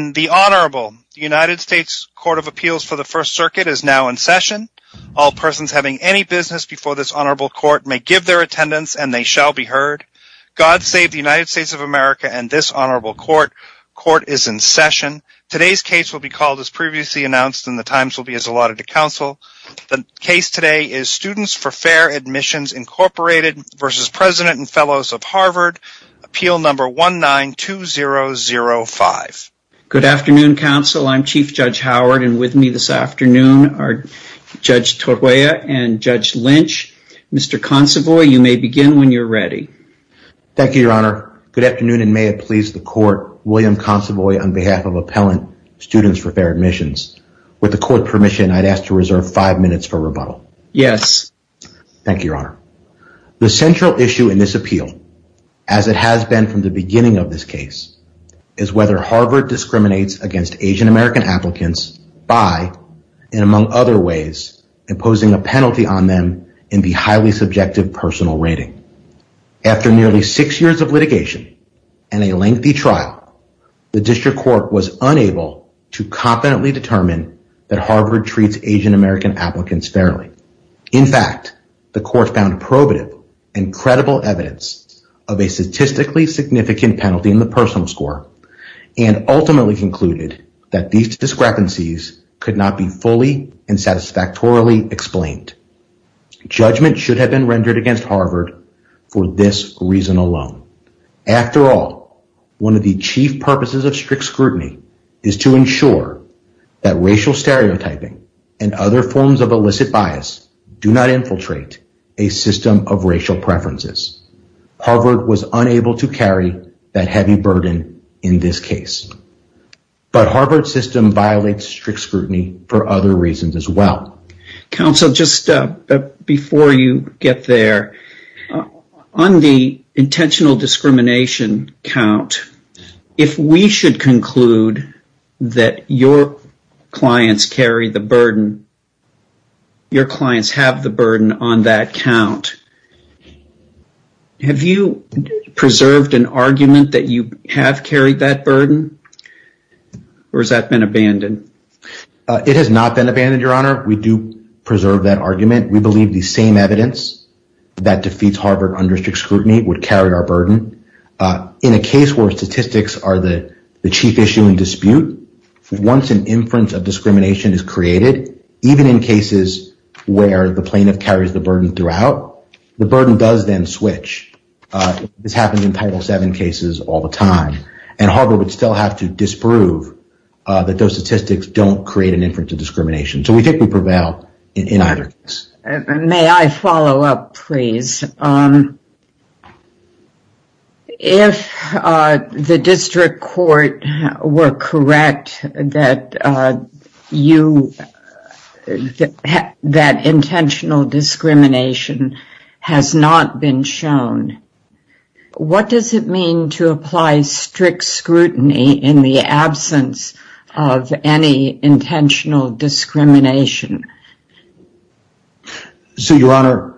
When the Honorable U.S. Court of Appeals for the First Circuit is now in session, all persons having any business before this Honorable Court may give their attendance, and they shall be heard. God save the United States of America and this Honorable Court. Court is in session. Today's case will be called as previously announced and the times will be as allotted to counsel. The case today is Students for Fair Admissions, Inc. v. President & Fellows of Harvard, Appeal No. 192005. Good afternoon, counsel. I'm Chief Judge Howard and with me this afternoon are Judge Torguea and Judge Lynch. Mr. Consovoy, you may begin when you're ready. Thank you, Your Honor. Good afternoon and may it please the Court, William Consovoy on behalf of Appellant Students for Fair Admissions. With the Court's permission, I'd ask to reserve five minutes for rebuttal. Yes. Thank you, Your Honor. The central issue in this appeal, as it has been from the beginning of this case, is whether Harvard discriminates against Asian American applicants by, and among other ways, imposing a penalty on them in the highly subjective personal rating. After nearly six years of litigation and a lengthy trial, the District Court was unable to confidently determine that Harvard treats Asian American applicants fairly. In fact, the Court found probative and credible evidence of a statistically significant penalty in the personal score and ultimately concluded that these discrepancies could not be fully and satisfactorily explained. Judgment should have been rendered against Harvard for this reason alone. After all, one of the chief purposes of strict scrutiny is to ensure that racial stereotyping and other forms of illicit bias do not infiltrate a system of racial preferences. Harvard was unable to carry that heavy burden in this case. But Harvard's system violates strict scrutiny for other reasons as well. Counsel, just before you get there, on the We should conclude that your clients carry the burden. Your clients have the burden on that count. Have you preserved an argument that you have carried that burden? Or has that been abandoned? It has not been abandoned, Your Honor. We do preserve that argument. We believe the same evidence that defeats Harvard under strict scrutiny would carry our burden. In a case where statistics are the chief issue in dispute, once an inference of discrimination is created, even in cases where the plaintiff carries the burden throughout, the burden does then switch. This happens in Title VII cases all the time. And Harvard would still have to disprove that those statistics don't create an inference of discrimination. So we think we prevail in either case. May I follow up, please? If the district court were correct that intentional discrimination has not been shown, what does it mean to apply strict scrutiny in the absence of any intentional discrimination? So, Your Honor,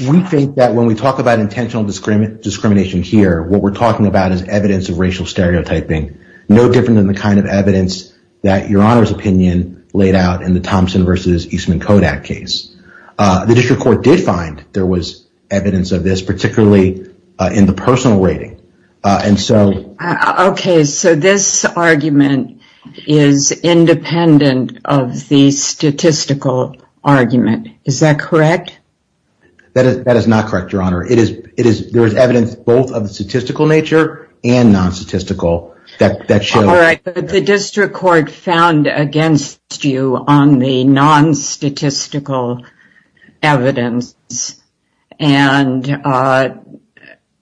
we think that when we talk about intentional discrimination here, what we're talking about is evidence of racial stereotyping, no different than the kind of evidence that Your Honor's opinion laid out in the Thompson v. Eastman Kodak case. The district court did find there was evidence of this, particularly in the personal rating. Okay. So this argument is independent of the statistical argument. Is that correct? That is not correct, Your Honor. There is evidence both of a statistical nature and non-statistical. All right. The district court found against you on the non-statistical evidence. And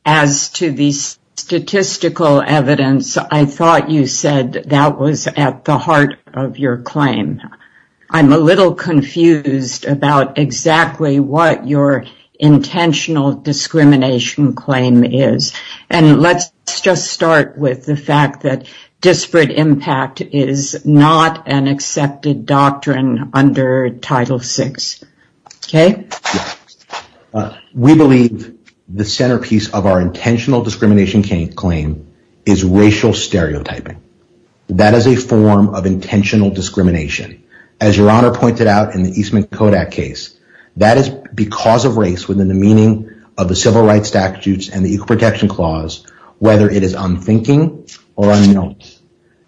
as to the statistical evidence, I thought you said that was at the heart of your claim. I'm a little confused about exactly what your intentional discrimination claim is. And let's just start with the fact that disparate impact is not an accepted doctrine under Title VI. Okay. We believe the centerpiece of our intentional discrimination claim is racial stereotyping. That is a form of intentional discrimination. As Your Honor pointed out in the Eastman Kodak case, that is because of race within the meaning of the Civil Rights Statutes and the Equal Protection Clause, whether it is unthinking or unknown,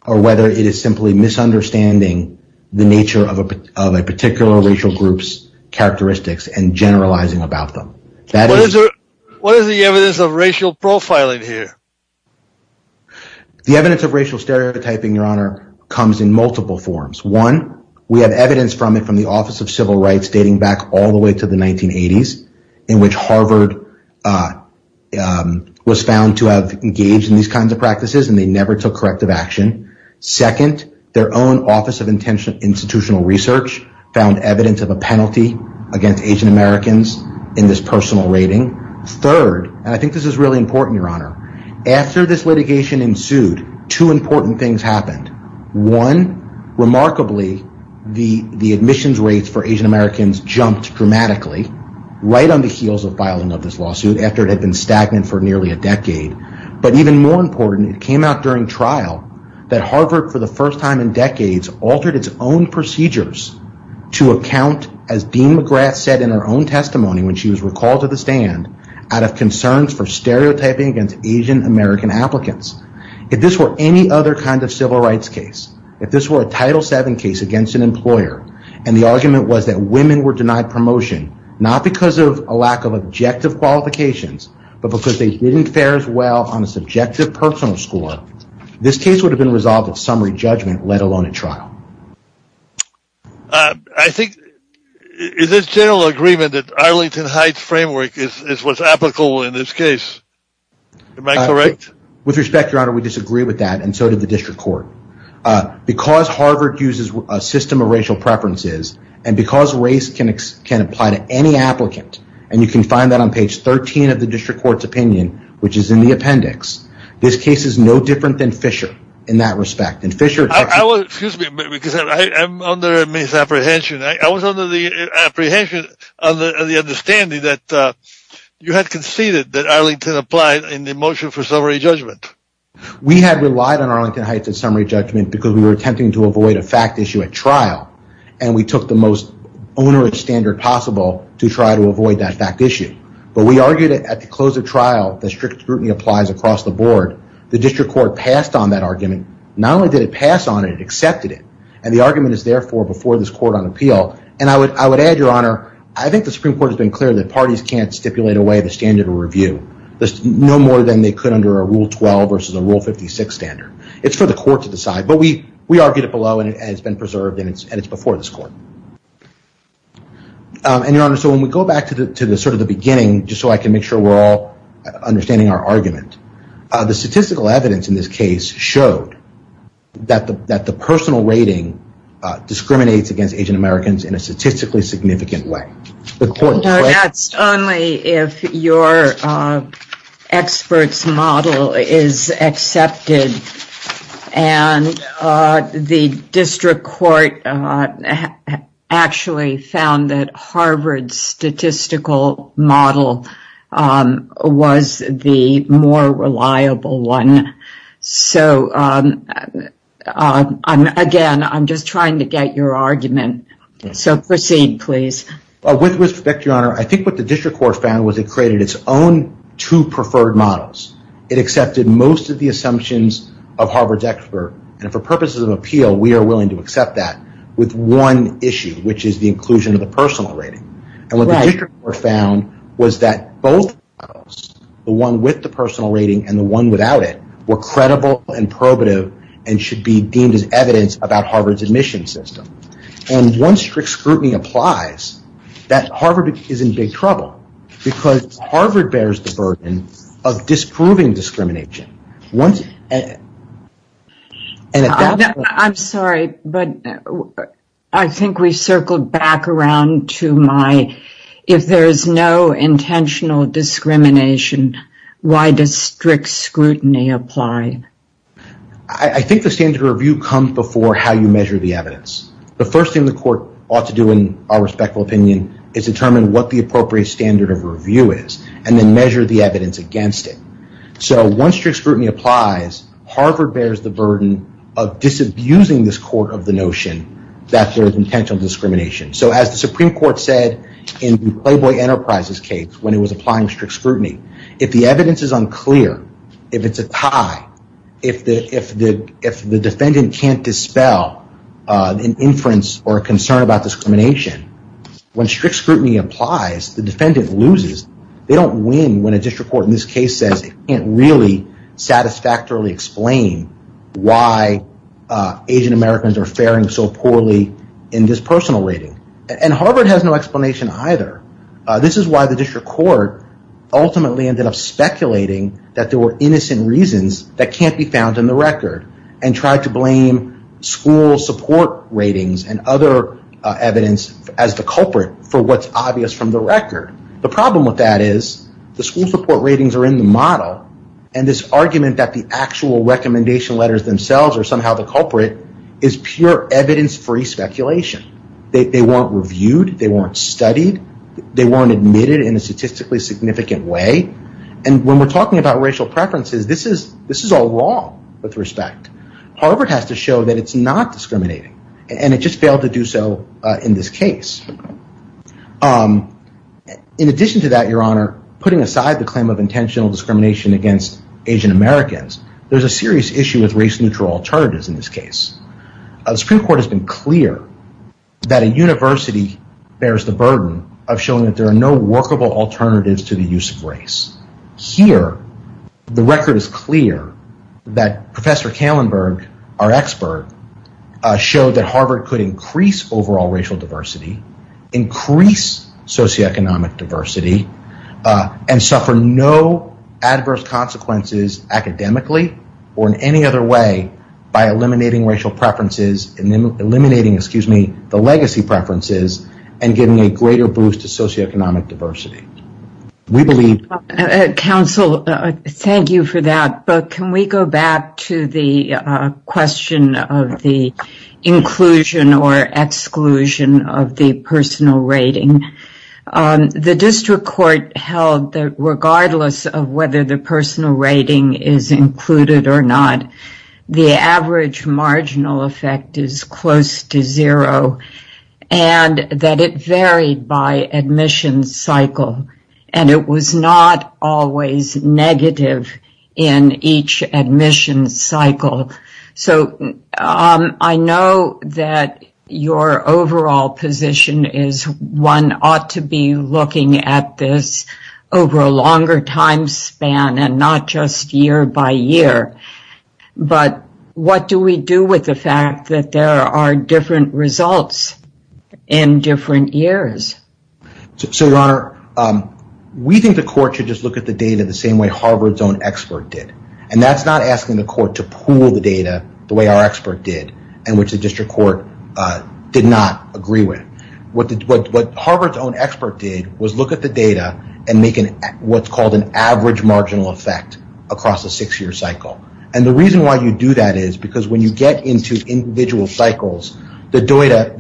or whether it is simply misunderstanding the nature of a particular racial group's characteristics and generalizing about them. What is the evidence of racial profiling here? The evidence of racial stereotyping, Your Honor, comes in multiple forms. One, we have evidence from the Office of Civil Rights dating back all the way to the 1980s, in which Harvard was found to have engaged in these kinds of practices and they never took corrective action. Second, their own Office of Institutional Research found evidence of a penalty against Asian Americans in this personal rating. Third, and I think this is really important, Your Honor, after this litigation ensued, two important things happened. One, remarkably, the admissions rates for Asian Americans jumped dramatically right on the heels of filing of this lawsuit after it had been stagnant for nearly a decade. But even more important, it came out during trial that Harvard, for the first time in decades, altered its own procedures to account, as Dean McGrath said in her own testimony when she was recalled to the stand, out of concerns for stereotyping against Asian American applicants. If this were any other kind of civil rights case, if this were a Title VII case against an employer, and the argument was that women were denied promotion, not because of a lack of objective qualifications, but because they didn't fare as well on the subjective personal score, this case would have been resolved with summary judgment, let alone a trial. I think, is this general agreement that Arlington Heights framework is what's apical in this case? Am I correct? With respect, Your Honor, we disagree with that, and so did the District Court. Because Harvard uses a system of racial preferences, and because race can apply to any applicant, and you can find that on page 13 of the District Court's opinion, which is in the appendix. This case is no different than Fisher, in that respect. I was, excuse me a minute, because I am under a misapprehension. I was under the apprehension of the understanding that you had conceded that Arlington applied in the motion for summary judgment. We had relied on Arlington Heights in summary judgment because we were attempting to avoid a fact issue at trial, and we took the most onerous standard possible to try to avoid that fact issue. But we argued that at the close of trial, the strict scrutiny applies across the board. The District Court passed on that argument. Not only did it pass on it, it accepted it, and the argument is therefore before this court on appeal. And I would add, Your Honor, I think the Supreme Court has been clear that parties can't stipulate a way to standard a review, no more than they could under a Rule 12 versus a Rule 56 standard. It's for the court to decide. But we argued it below, and it's been preserved, and it's before this court. And, Your Honor, so when we go back to sort of the beginning, just so I can make sure we're all understanding our argument, the statistical evidence in this case showed that the personal rating discriminates against Asian Americans in a statistically significant way. So that's only if your expert's model is accepted, and the District Court actually found that Harvard's statistical model was the more reliable one. So, again, I'm just trying to get your argument, so proceed, please. With respect, Your Honor, I think what the District Court found was it created its own two preferred models. It accepted most of the assumptions of Harvard's expert, and for purposes of appeal, we are willing to accept that with one issue, which is the inclusion of the personal rating. And what the District Court found was that both models, the one with the personal rating and the one without it, were credible and probative and should be deemed as evidence about Harvard's admissions system. And once strict scrutiny applies, Harvard is in big trouble, because Harvard bears the burden of disproving discrimination. I'm sorry, but I think we circled back around to my, if there is no intentional discrimination, why does strict scrutiny apply? I think the standard of review comes before how you measure the evidence. The first thing the court ought to do, in our respectful opinion, is determine what the appropriate standard of review is, and then measure the evidence against it. So once strict scrutiny applies, Harvard bears the burden of disabusing this court of the notion that there is intentional discrimination. So as the Supreme Court said in the Clayboy Enterprises case, when it was applying strict scrutiny, if the defendant can't dispel an inference or a concern about discrimination, when strict scrutiny applies, the defendant loses. They don't win when a district court in this case says they can't really satisfactorily explain why Asian Americans are faring so poorly in this personal rating. And Harvard has no explanation either. This is why the district court ultimately ended up speculating that there were innocent reasons that can't be found in the record, and tried to blame school support ratings and other evidence as the culprit for what's obvious from the record. The problem with that is the school support ratings are in the model, and this argument that the actual recommendation letters themselves are somehow the culprit is pure evidence-free speculation. They weren't reviewed, they weren't studied, they weren't admitted in a statistically significant way, and when we're talking about racial preferences, this is all wrong with respect. Harvard has to show that it's not discriminating, and it just failed to do so in this case. In addition to that, Your Honor, putting aside the claim of intentional discrimination against Asian Americans, there's a serious issue with race-neutral alternatives in this case. The district court has been clear that a university bears the burden of showing that there are no workable alternatives to the use of race. Here, the record is clear that Professor Kallenberg, our expert, showed that Harvard could increase overall racial diversity, increase socioeconomic diversity, and suffer no adverse consequences academically or in any other way by eliminating racial preferences, eliminating, excuse me, the legacy preferences, and giving a greater boost to socioeconomic diversity. We believe... Counsel, thank you for that, but can we go back to the question of the inclusion or exclusion of the personal rating? The district court held that regardless of whether the personal rating is included or not, the average marginal effect is close to zero, and that it varied by admission cycle, and it was not always negative in each admission cycle. So, I know that your overall position is one ought to be looking at this over a longer time span and not just year by year, but what do we do with the fact that there are different results in different years? So, Your Honor, we think the court should just look at the data the same way Harvard's own expert did, and that's not asking the court to pool the data the way our expert did and which the district court did not agree with. What Harvard's own expert did was look at the data and make what's called an average marginal effect across the six-year cycle, and the reason why you do that is because when you get into individual cycles, the data,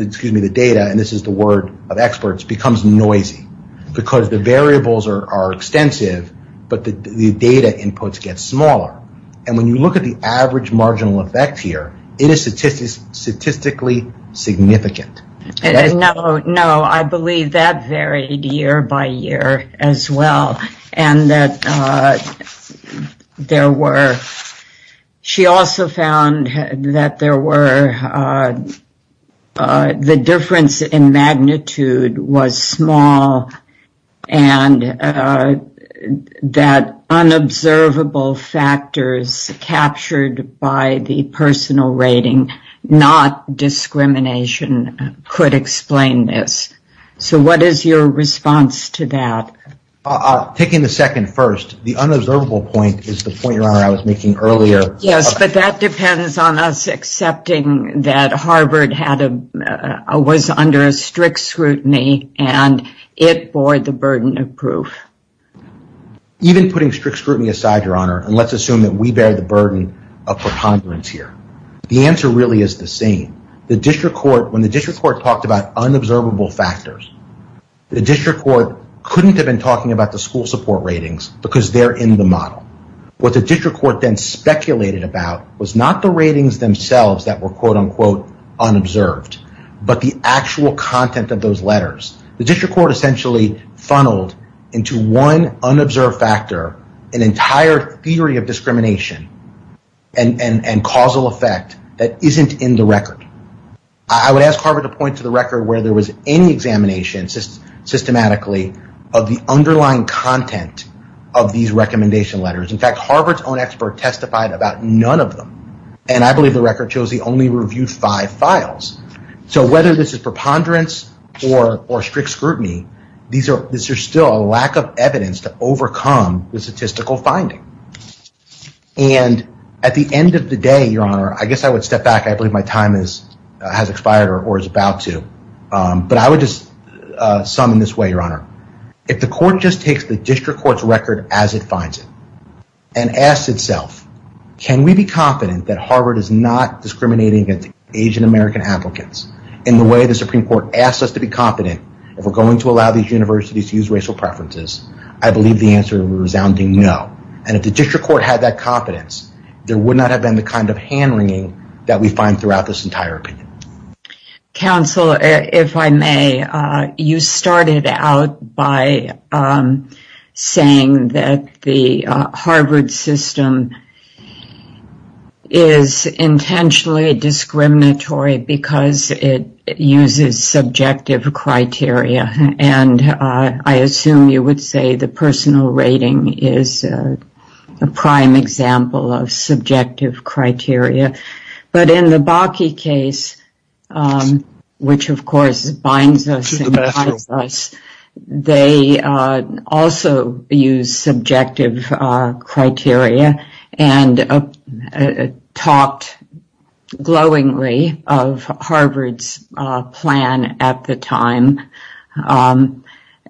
and this is the word of experts, becomes noisy because the variables are extensive, but the data inputs get smaller, and when you look at the average marginal effect here, it is statistically significant. No, I believe that varied year by year as well, and that there were, she also found that there were, the difference in magnitude was small and that unobservable factors captured by the personal rating, not discrimination, could explain this. So, what is your response to that? Taking the second first, the unobservable point is the point Your Honor I was making earlier. Yes, but that depends on us accepting that Harvard was under strict scrutiny and it bore the burden of proof. Even putting strict scrutiny aside, Your Honor, and let's assume that we bear the burden of preponderance here. The answer really is the same. When the district court talked about unobservable factors, the district court couldn't have been talking about the school support ratings because they're in the model. What the district court then speculated about was not the ratings themselves that were quote-unquote unobserved, but the actual content of those letters. The district court essentially funneled into one unobserved factor an entire theory of discrimination and causal effect that isn't in the record. I would ask Harvard to point to the record where there was any examination systematically of the underlying content of these recommendation letters. In fact, Harvard's own expert testified about none of them, and I believe the record shows he only reviewed five files. So, whether this is preponderance or strict scrutiny, this is still a lack of evidence to overcome the statistical finding. And at the end of the day, Your Honor, I guess I would step back. I believe my time has expired or is about to, but I would just sum in this way, Your Honor, if the court just takes the district court's record as it finds it and asks itself, can we be confident that Harvard is not discriminating against Asian American applicants in the way the Supreme Court asks us to be confident that we're going to allow these universities to use racial preferences? I believe the answer is a resounding no. And if the district court had that confidence, there would not have been the kind of hand wringing that we find throughout this entire opinion. Counsel, if I may, you started out by saying that the Harvard system is intentionally discriminatory because it uses subjective criteria. And I assume you would say the personal rating is a prime example of subjective criteria. But in the Bakke case, which, of course, binds us, they also use subjective criteria and talked glowingly of Harvard's plan at the time.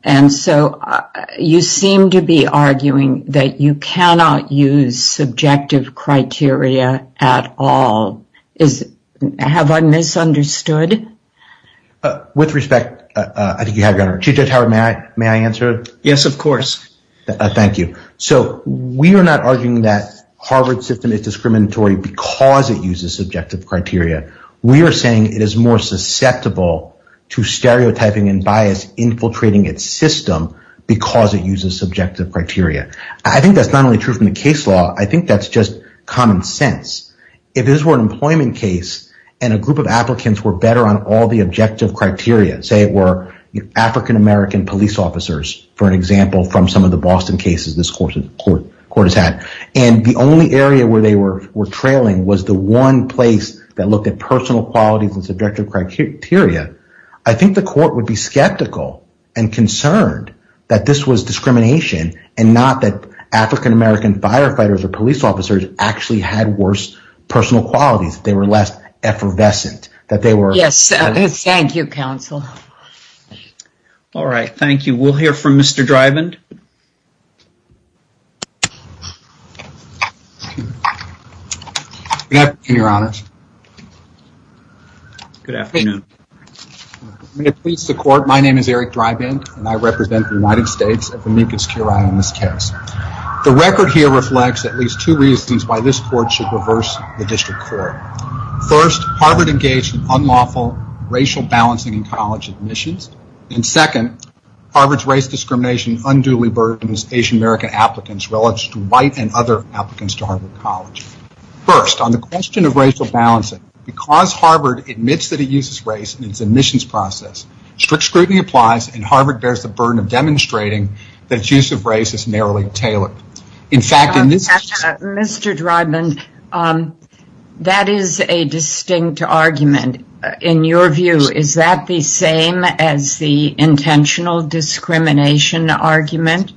And so you seem to be arguing that you cannot use subjective criteria at all. Have I misunderstood? With respect, I think you have, Your Honor. Chief Judge Howard, may I answer? Yes, of course. Thank you. So we are not arguing that Harvard's system is discriminatory because it uses subjective criteria. We are saying it is more susceptible to stereotyping and bias infiltrating its system because it uses subjective criteria. I think that's not only true from the case law. I think that's just common sense. If this were an employment case and a group of applicants were better on all the objective criteria, say it were African-American police officers, for example, from some of the Boston cases this court has had, and the only area where they were trailing was the one place that looked at personal qualities with subjective criteria, I think the court would be skeptical and concerned that this was discrimination and not that African-American firefighters or police officers actually had worse personal qualities. They were less effervescent. Thank you, counsel. All right. Thank you. We'll hear from Mr. Driven. Good afternoon, Your Honor. Good afternoon. May it please the court. My name is Eric Driven, and I represent the United States at the linkage to your item in this case. The record here reflects at least two reasons why this court should reverse the district court. First, Harvard engaged in unlawful racial balancing in college admissions. And second, Harvard's race discrimination unduly burdened its Asian-American applicants relative to white and other applicants to Harvard College. First, on the question of racial balancing, because Harvard admits that it uses race in its admissions process, strict scrutiny applies, and Harvard bears the burden of demonstrating that its use of race is narrowly tailored. In fact, in this case... Mr. Driven, that is a distinct argument. In your view, is that the same as the intentional discrimination argument?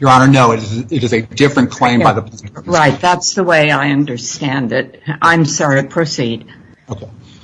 Your Honor, no. It is a different claim by the... Right. That's the way I understand it. I'm sorry. Proceed.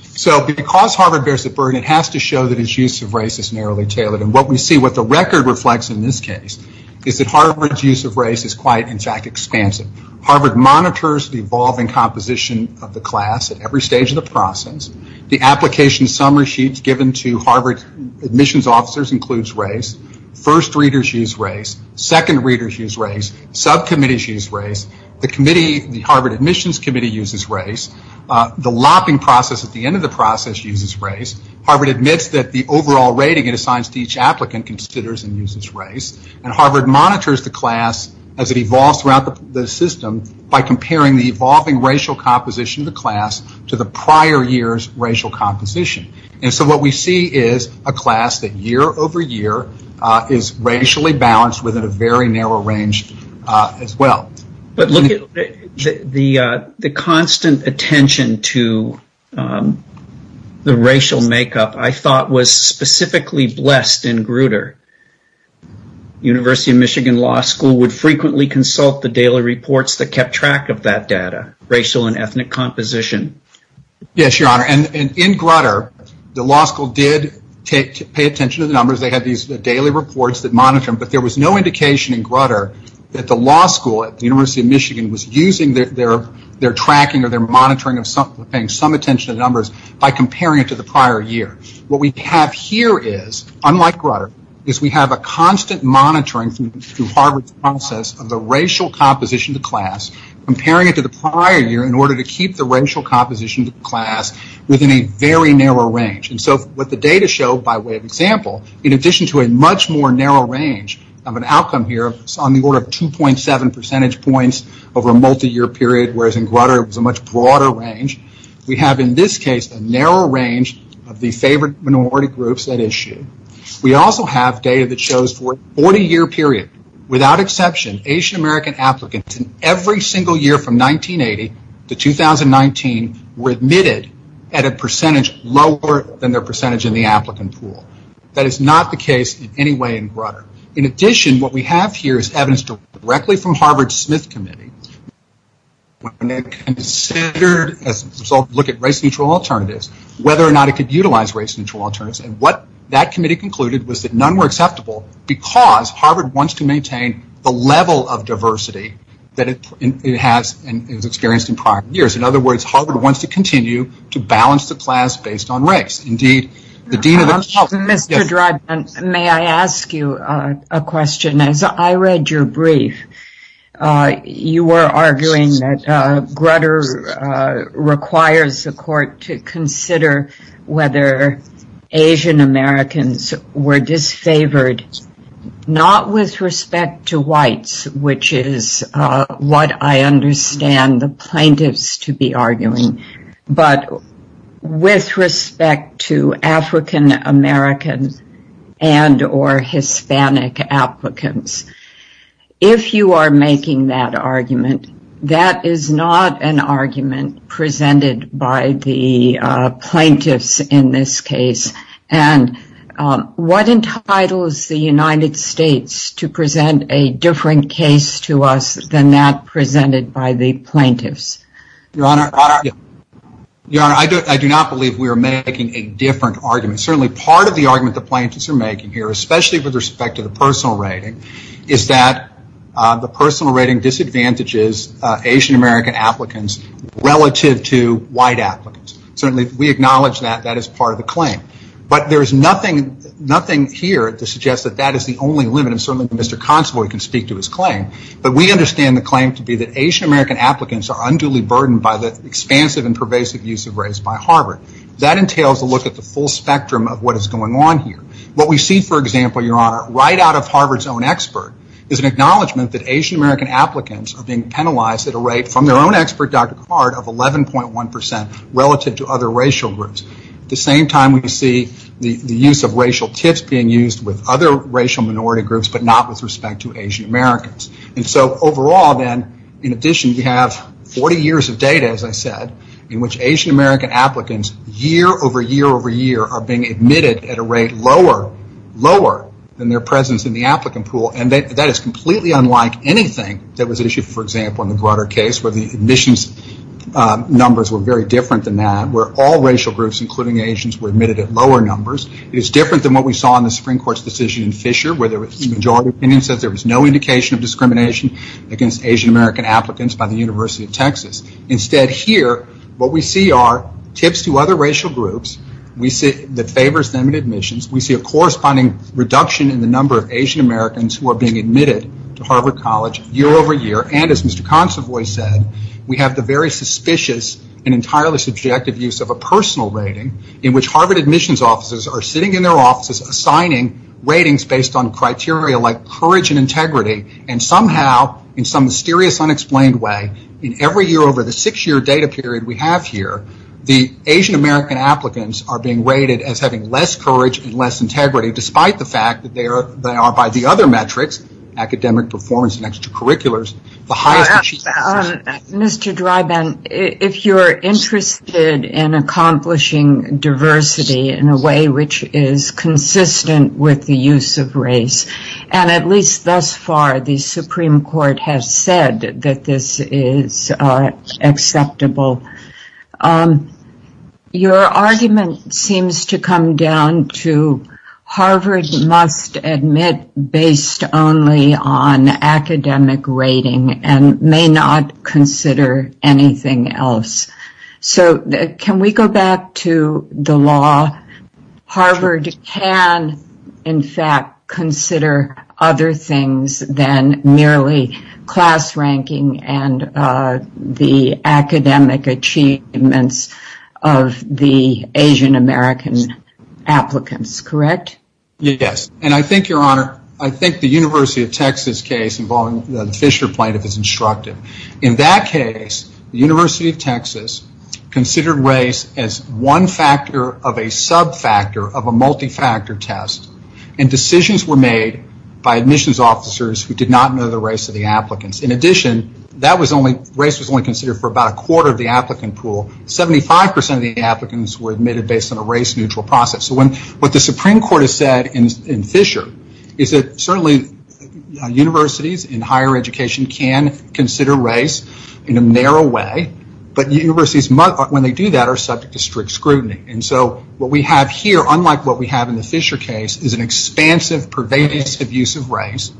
So, because Harvard bears the burden, it has to show that its use of race is narrowly tailored. And what we see, what the record reflects in this case, is that Harvard's use of race is quite, in fact, expansive. Harvard monitors the evolving composition of the class at every stage of the process. The application summer sheets given to Harvard admissions officers includes race. First readers use race. Second readers use race. Subcommittees use race. The committee, the Harvard admissions committee uses race. The lopping process at the end of the process uses race. Harvard admits that the overall rating it assigns to each applicant considers and uses race. And Harvard monitors the class as it evolves throughout the system by comparing the evolving racial composition of the class to the prior year's racial composition. And so what we see is a class that year over year is racially balanced within a very narrow range as well. But look at the constant attention to the racial makeup I thought was specifically blessed in Grutter. University of Michigan Law School would frequently consult the daily reports that kept track of that data, racial and ethnic composition. Yes, your honor. And in Grutter, the law school did pay attention to the numbers. They had these daily reports that monitor them. But there was no indication in Grutter that the law school at the University of Michigan was using their tracking or their monitoring of paying some attention to numbers by comparing it to the prior year. What we have here is, unlike Grutter, is we have a constant monitoring through Harvard's process of the racial composition of the class comparing it to the prior year in order to keep the racial composition of the class within a very narrow range. And so what the data show by way of example, in addition to a much more narrow range of an outcome here on the order of 2.7 percentage points over a multi-year period, whereas in Grutter it was a much broader range, we have in this case a narrow range of the favored minority groups that issue. We also have data that shows for a 40-year period, without exception, Asian American applicants in every single year from 1980 to 2019 were admitted at a percentage lower than their percentage in the applicant pool. That is not the case in any way in Grutter. In addition, what we have here is evidence directly from Harvard's Smith Committee when they considered, as a result, look at race-neutral alternatives, whether or not they could utilize race-neutral alternatives. And what that committee concluded was that none were acceptable because Harvard wants to maintain the level of diversity that it has and has experienced in prior years. In other words, Harvard wants to continue to balance the class based on race. Indeed, the dean of the college— Mr. Drudman, may I ask you a question? I read your brief. You were arguing that Grutter requires the court to consider whether Asian Americans were disfavored, not with respect to whites, which is what I understand the plaintiffs to be arguing, but with respect to African American and or Hispanic applicants. If you are making that argument, that is not an argument presented by the plaintiffs in this case. And what entitles the United States to present a different case to us than that presented by the plaintiffs? Your Honor, I do not believe we are making a different argument. Certainly, part of the argument the plaintiffs are making here, especially with respect to the personal rating, is that the personal rating disadvantages Asian American applicants relative to white applicants. Certainly, we acknowledge that. That is part of the claim. But there is nothing here to suggest that that is the only limit. And certainly, Mr. Consovoy can speak to his claim. But we understand the claim to be that Asian American applicants are unduly burdened by the expansive and pervasive use of race by Harvard. That entails a look at the full spectrum of what is going on here. What we see, for example, Your Honor, right out of Harvard's own expert, is an acknowledgement that Asian American applicants are being penalized at a rate from their own expert, Dr. Hart, of 11.1% relative to other racial groups. At the same time, we see the use of racial tips being used with other racial minority groups, but not with respect to Asian Americans. And so overall, then, in addition, you have 40 years of data, as I said, in which Asian American applicants year over year over year are being admitted at a rate lower, lower than their presence in the applicant pool. And that is completely unlike anything that was issued, for example, in the Glutter case, where the admissions numbers were very different than that, where all racial groups, including Asians, were admitted at lower numbers. It's different than what we saw in the Supreme Court's decision in Fisher, where the majority opinion said there was no indication of discrimination against Asian American applicants by the University of Texas. Instead, here, what we see are tips to other racial groups. We see that favors them in admissions. We see a corresponding reduction in the number of Asian Americans who are being admitted to Harvard College year over year. And as Mr. Consovoy said, we have the very suspicious and entirely subjective use of personal rating, in which Harvard admissions offices are sitting in their offices, assigning ratings based on criteria like courage and integrity. And somehow, in some mysterious, unexplained way, in every year over the six-year data period we have here, the Asian American applicants are being rated as having less courage and less integrity, despite the fact that they are, by the other metrics, academic performance and extracurriculars, the highest. Mr. Driban, if you're interested in accomplishing diversity in a way which is consistent with the use of race, and at least thus far, the Supreme Court has said that this is acceptable, your argument seems to come down to Harvard must admit based only on academic rating and may not consider anything else. So, can we go back to the law? Harvard can, in fact, consider other things than merely class ranking and the academic achievements of the Asian American applicants, correct? Yes. And I think, Your Honor, I think the University of Texas case involving the Fisher plaintiff is instructive. In that case, the University of Texas considered race as one factor of a sub-factor of a multi-factor test and decisions were made by admissions officers who did not know the race of the applicants. In addition, race was only considered for about a quarter of the applicant pool. 75% of the applicants were admitted based on a race-neutral process. So, what the Supreme Court has said in Fisher is that certainly universities in higher education can consider race in a narrow way, but universities, when they do that, are subject to strict scrutiny. And so, what we have here, unlike what we have in the Fisher case, is an expansive, pervasive use of race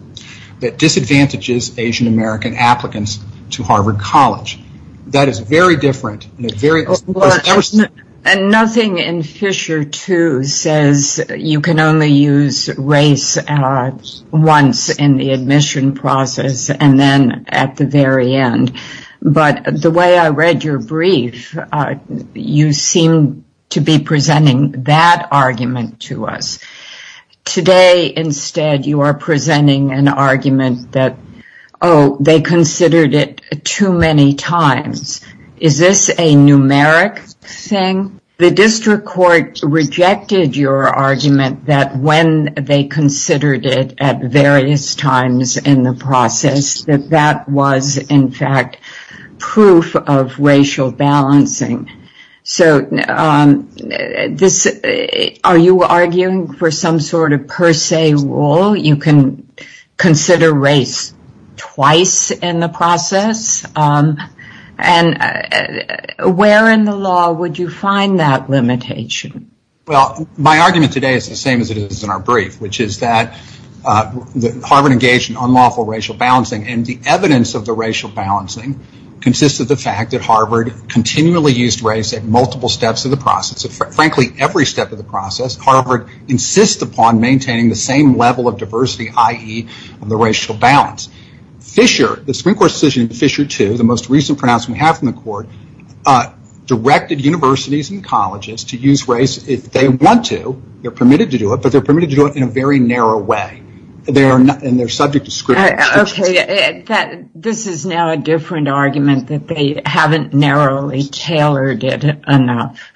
that disadvantages Asian American applicants to Harvard College. That is very different. And nothing in Fisher 2 says you can only use race once in the admission process and then at the very end. But the way I read your brief, you seem to be presenting that argument to us. Today, instead, you are presenting an argument that, oh, they considered it too many times. Is this a numeric thing? The district court rejected your argument that when they considered it at various times in the process, that that was, in fact, proof of racial balancing. So, are you arguing for some sort of per se rule? You can consider race twice in the process? And where in the law would you find that limitation? Well, my argument today is the same as it is in our brief, which is that Harvard engaged in unlawful racial balancing. And the evidence of the racial balancing consists of the fact that Harvard continually used race at multiple steps of the process. Frankly, every step of the process, Harvard insists upon maintaining the same level of diversity, i.e., the racial balance. Fisher, the district court decision in Fisher 2, the most recent pronouncement we have from the court, directed universities and colleges to use race if they want to. They're permitted to do it, but they're permitted to do it in a very narrow way. And they're subject to scrutiny. Okay. This is now a different argument that they haven't narrowly tailored it enough.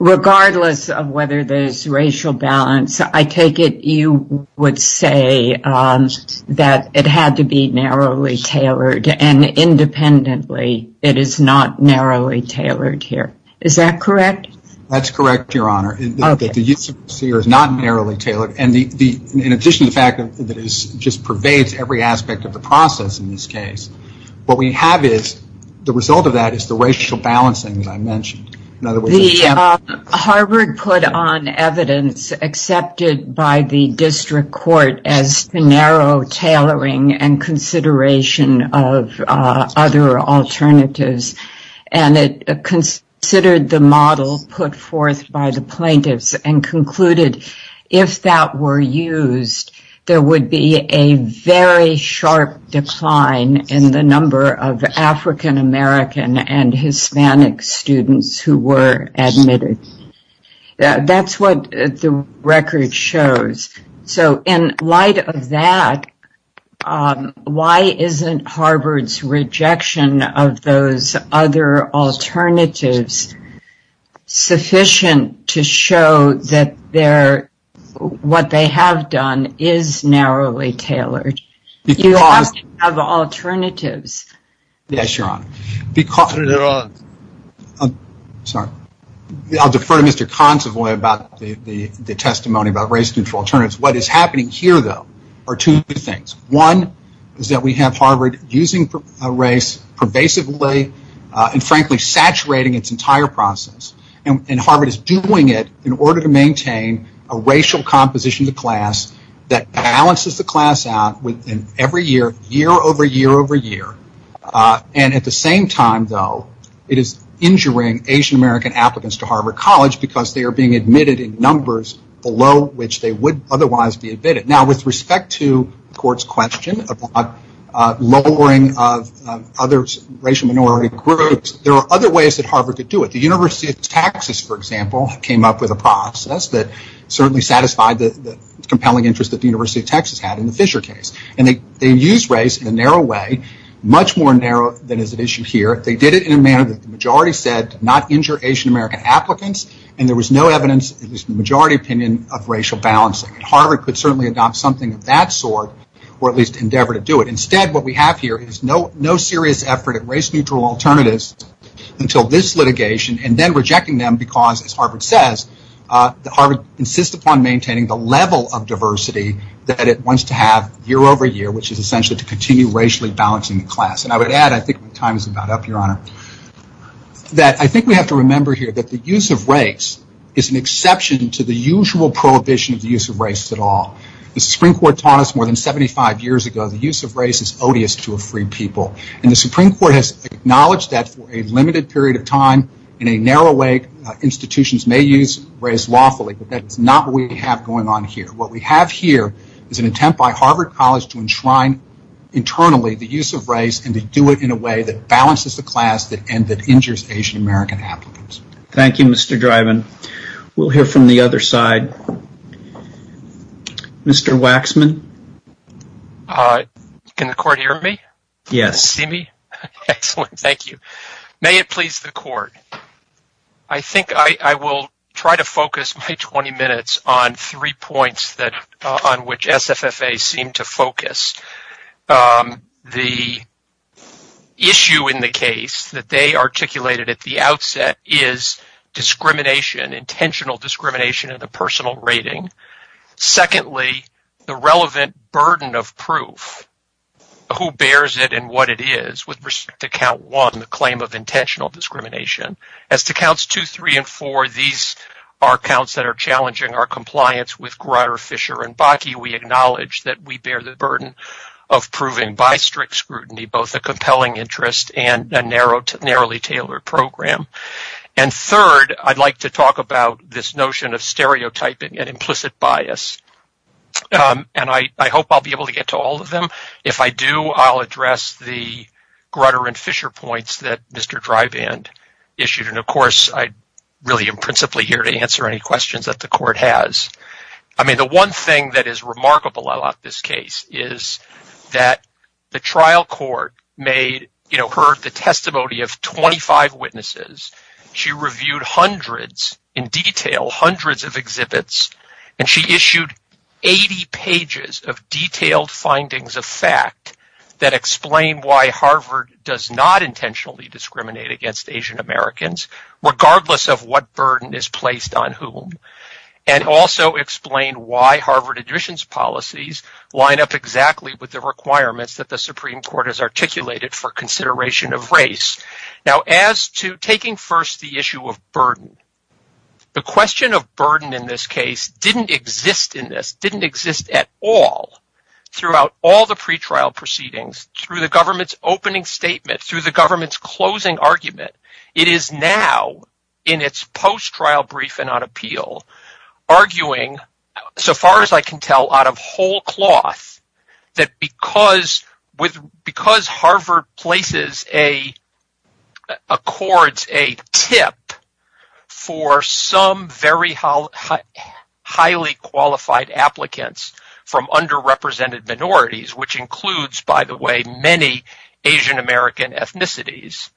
Regardless of whether there's racial balance, I take it you would say that it had to be narrowly tailored. And independently, it is not narrowly tailored here. Is that correct? That's correct, Your Honor. Okay. But it's not narrowly tailored. And in addition to the fact that it just pervades every aspect of the process in this case, what we have is, the result of that is the racial balancing that I mentioned. Harvard put on evidence accepted by the district court as the narrow tailoring and consideration of other alternatives. And it considered the model put forth by the plaintiffs and concluded, if that were used, there would be a very sharp decline in the number of African American and Hispanic students who were admitted. That's what the record shows. So, in light of that, why isn't Harvard's rejection of those other alternatives sufficient to show that what they have done is narrowly tailored? You have to have alternatives. Yes, Your Honor. Because, Your Honor, sorry. I'll defer to Mr. Consovoy about the testimony about race-control alternatives. What is happening here, though, are two things. One is that we have Harvard using race pervasively and, frankly, saturating its entire process. And Harvard is doing it in order to maintain a racial composition of the class that balances the class out within every year, year over year over year. And at the same time, though, it is injuring Asian American applicants to Harvard College because they are being admitted in numbers below which they would otherwise be admitted. Now, with respect to the court's question about lowering of other racial minority groups, there are other ways that Harvard could do it. The University of Texas, for example, came up with a process that certainly satisfied the compelling interest that the University of Texas had in the Fisher case. And they used race in a narrow way, much more narrow than is at issue here. They did it in a manner that the majority said did not injure Asian American applicants, and there was no evidence in the majority opinion of racial balancing. Harvard could certainly adopt something of that sort or at least endeavor to do it. Instead, what we have here is no serious effort at race-neutral alternatives until this litigation and then rejecting them because, as Harvard says, Harvard insists upon maintaining the level of diversity that it wants to have year over year, which is essentially to continue racially balancing the class. And I would add, I think the time is about up, Your Honor, that I think we have to remember here that the use of race is an exception to the usual prohibition of the use of race at all. The Supreme Court taught us more than 75 years ago the use of race is odious to a free people. And the Supreme Court has acknowledged that for a limited period of time in a narrow way, institutions may use race lawfully, but that's not what we have going on here. What we have here is an attempt by Harvard College to enshrine internally the use of race and to do it in a way that balances the class and that injures Asian American applicants. Thank you, Mr. Driven. We'll hear from the other side. Mr. Waxman? Can the court hear me? See me? Excellent. Thank you. May it please the court. I think I will try to focus my 20 minutes on three points that on which SFFA seemed to focus. The issue in the case that they articulated at the outset is discrimination, intentional discrimination of the personal rating. Secondly, the relevant burden of proof, who bears it and what it is with respect to count discrimination. As to counts two, three, and four, these are counts that are challenging our compliance with Grutter, Fisher, and Bakke. We acknowledge that we bear the burden of proving by strict scrutiny, both a compelling interest and a narrowly tailored program. And third, I'd like to talk about this notion of stereotyping and implicit bias. And I hope I'll be able to get to all of them. If I do, I'll address the Grutter and Fisher points that Mr. Dryband issued. And of course, I really am principally here to answer any questions that the court has. I mean, the one thing that is remarkable about this case is that the trial court heard the testimony of 25 witnesses. She reviewed hundreds in detail, hundreds of exhibits, and she issued 80 pages of detailed findings of fact that explain why Harvard does not intentionally discriminate against Asian-Americans, regardless of what burden is placed on whom, and also explain why Harvard admissions policies line up exactly with the requirements that the Supreme Court has articulated for consideration of race. Now, as to taking first the issue of burden, the question of burden in this case didn't exist in this, didn't exist at all throughout all the pretrial proceedings, through the government's opening statement, through the government's closing argument. It is now in its post-trial briefing on appeal, arguing so far as I can tell out of whole cloth that because Harvard accords a tip for some very highly qualified applicants from underrepresented minorities, which includes, by the way, many Asian-American ethnicities,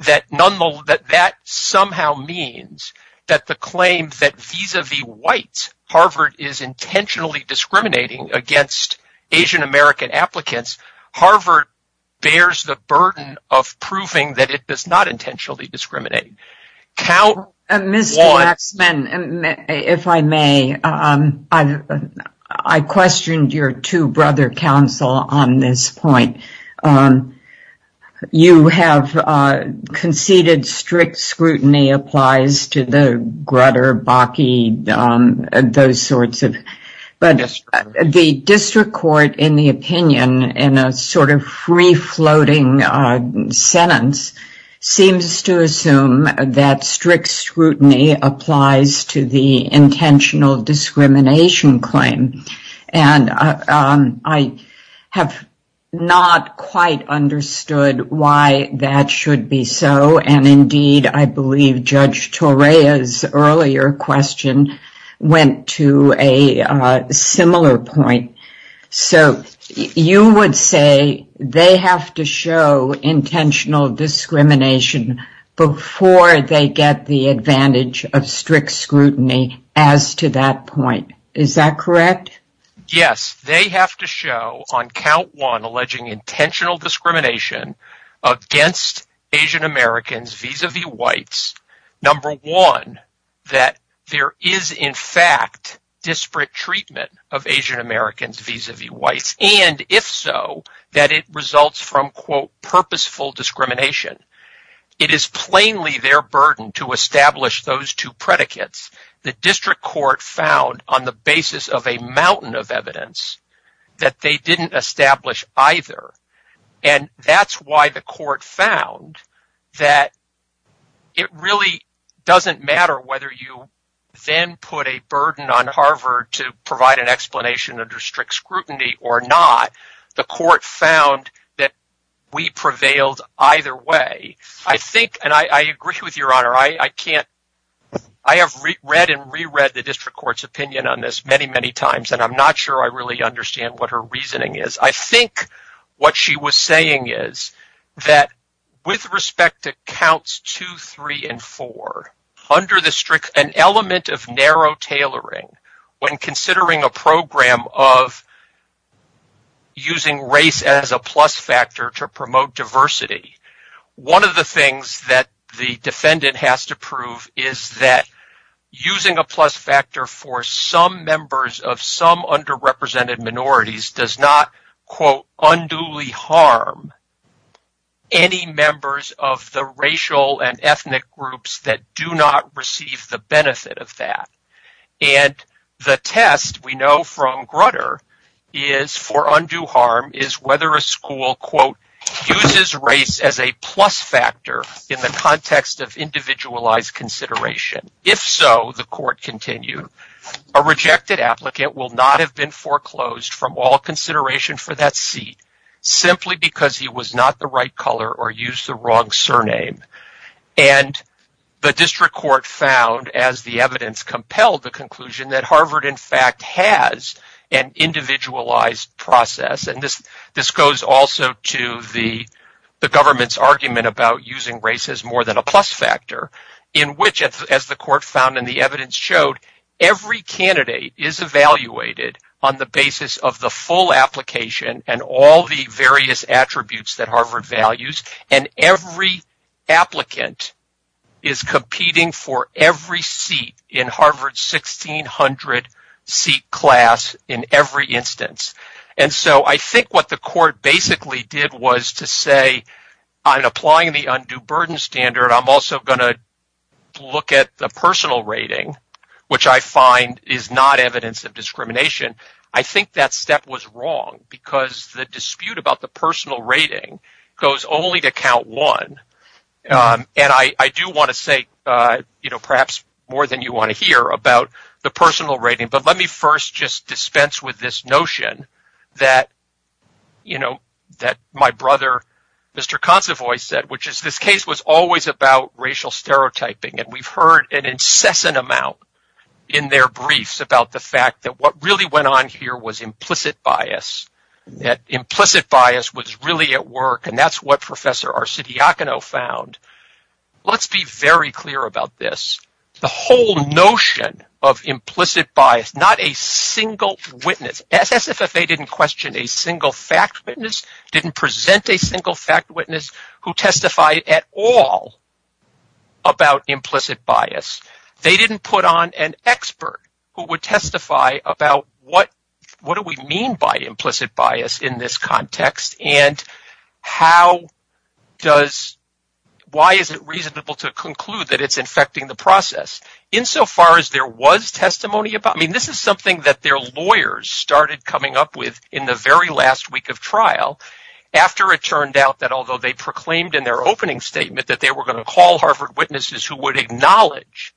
that that somehow means that the claim that vis-a-vis whites, Harvard is intentionally discriminating against Asian-American applicants, Harvard bears the burden of proving that it is not intentionally discriminating. Count one— Mr. Axman, if I may, I questioned your two-brother counsel on this point. You have conceded strict scrutiny applies to the Grutter, Bakke, those sorts of—but the district court, in the opinion, in a sort of free-floating sentence, seems to assume that strict scrutiny applies to the intentional discrimination claim. And I have not quite understood why that should be so. And indeed, I believe Judge Torea's earlier question went to a similar point. So you would say they have to show intentional discrimination before they get the advantage of strict scrutiny as to that point. Is that correct? Yes. They have to show, on count one, alleging intentional discrimination against Asian-Americans vis-a-vis whites, number one, that there is, in fact, disparate treatment of Asian-Americans vis-a-vis whites, and if so, that it results from, quote, purposeful discrimination. It is plainly their burden to establish those two predicates. The district court found, on the basis of a mountain of evidence, that they didn't establish either, and that's why the court found that it really doesn't matter whether you then put a burden on Harvard to provide an explanation under strict scrutiny or not. The court found that we prevailed either way. I think, and I agree with your honor, I have read and re-read the district court's opinion on this many, many times, and I'm not sure I really understand what her reasoning is. I think what she was saying is that with respect to counts two, three, and four, under the strict, an element of narrow tailoring, when considering a program of using race as a plus factor to promote diversity, one of the things that the defendant has to prove is that using a plus factor for some members of some underrepresented minorities does not, quote, unduly harm any members of the racial and ethnic groups that do not receive the benefit of that. And the test we know from Grutter is, for undue harm, is whether a school, quote, uses race as a plus factor in the context of individualized consideration. If so, the court continued, a rejected applicant will not have been foreclosed from all consideration for that seat simply because he was not the right color or used the wrong surname, and the district court found, as the evidence compelled the conclusion, that Harvard, in fact, has an individualized process, and this goes also to the government's argument about using race as more than a plus factor, in which, as the court found and the evidence showed, every candidate is evaluated on the basis of the full application and all the applicant is competing for every seat in Harvard's 1600 seat class in every instance. And so I think what the court basically did was to say, I'm applying the undue burden standard. I'm also going to look at the personal rating, which I find is not evidence of discrimination. I think that step was wrong because the dispute about the personal rating goes only to count one, and I do want to say, you know, perhaps more than you want to hear about the personal rating, but let me first just dispense with this notion that, you know, that my brother Mr. Consovoy said, which is this case was always about racial stereotyping, and we've heard an incessant amount in their briefs about the fact that what really went on here was implicit bias, that implicit bias was really at work, and that's what Professor Arcidiacono found. Let's be very clear about this. The whole notion of implicit bias, not a single witness, SSFA didn't question a single fact witness, didn't present a single fact witness who testified at all about implicit bias. They didn't put on an expert who would testify about what do we mean by implicit bias in this context, and why is it reasonable to conclude that it's infecting the process insofar as there was testimony about it. I mean, this is something that their lawyers started coming up with in the very last week of trial after it turned out that, although they proclaimed in their opening statement that they were going to call Harvard witnesses who would acknowledge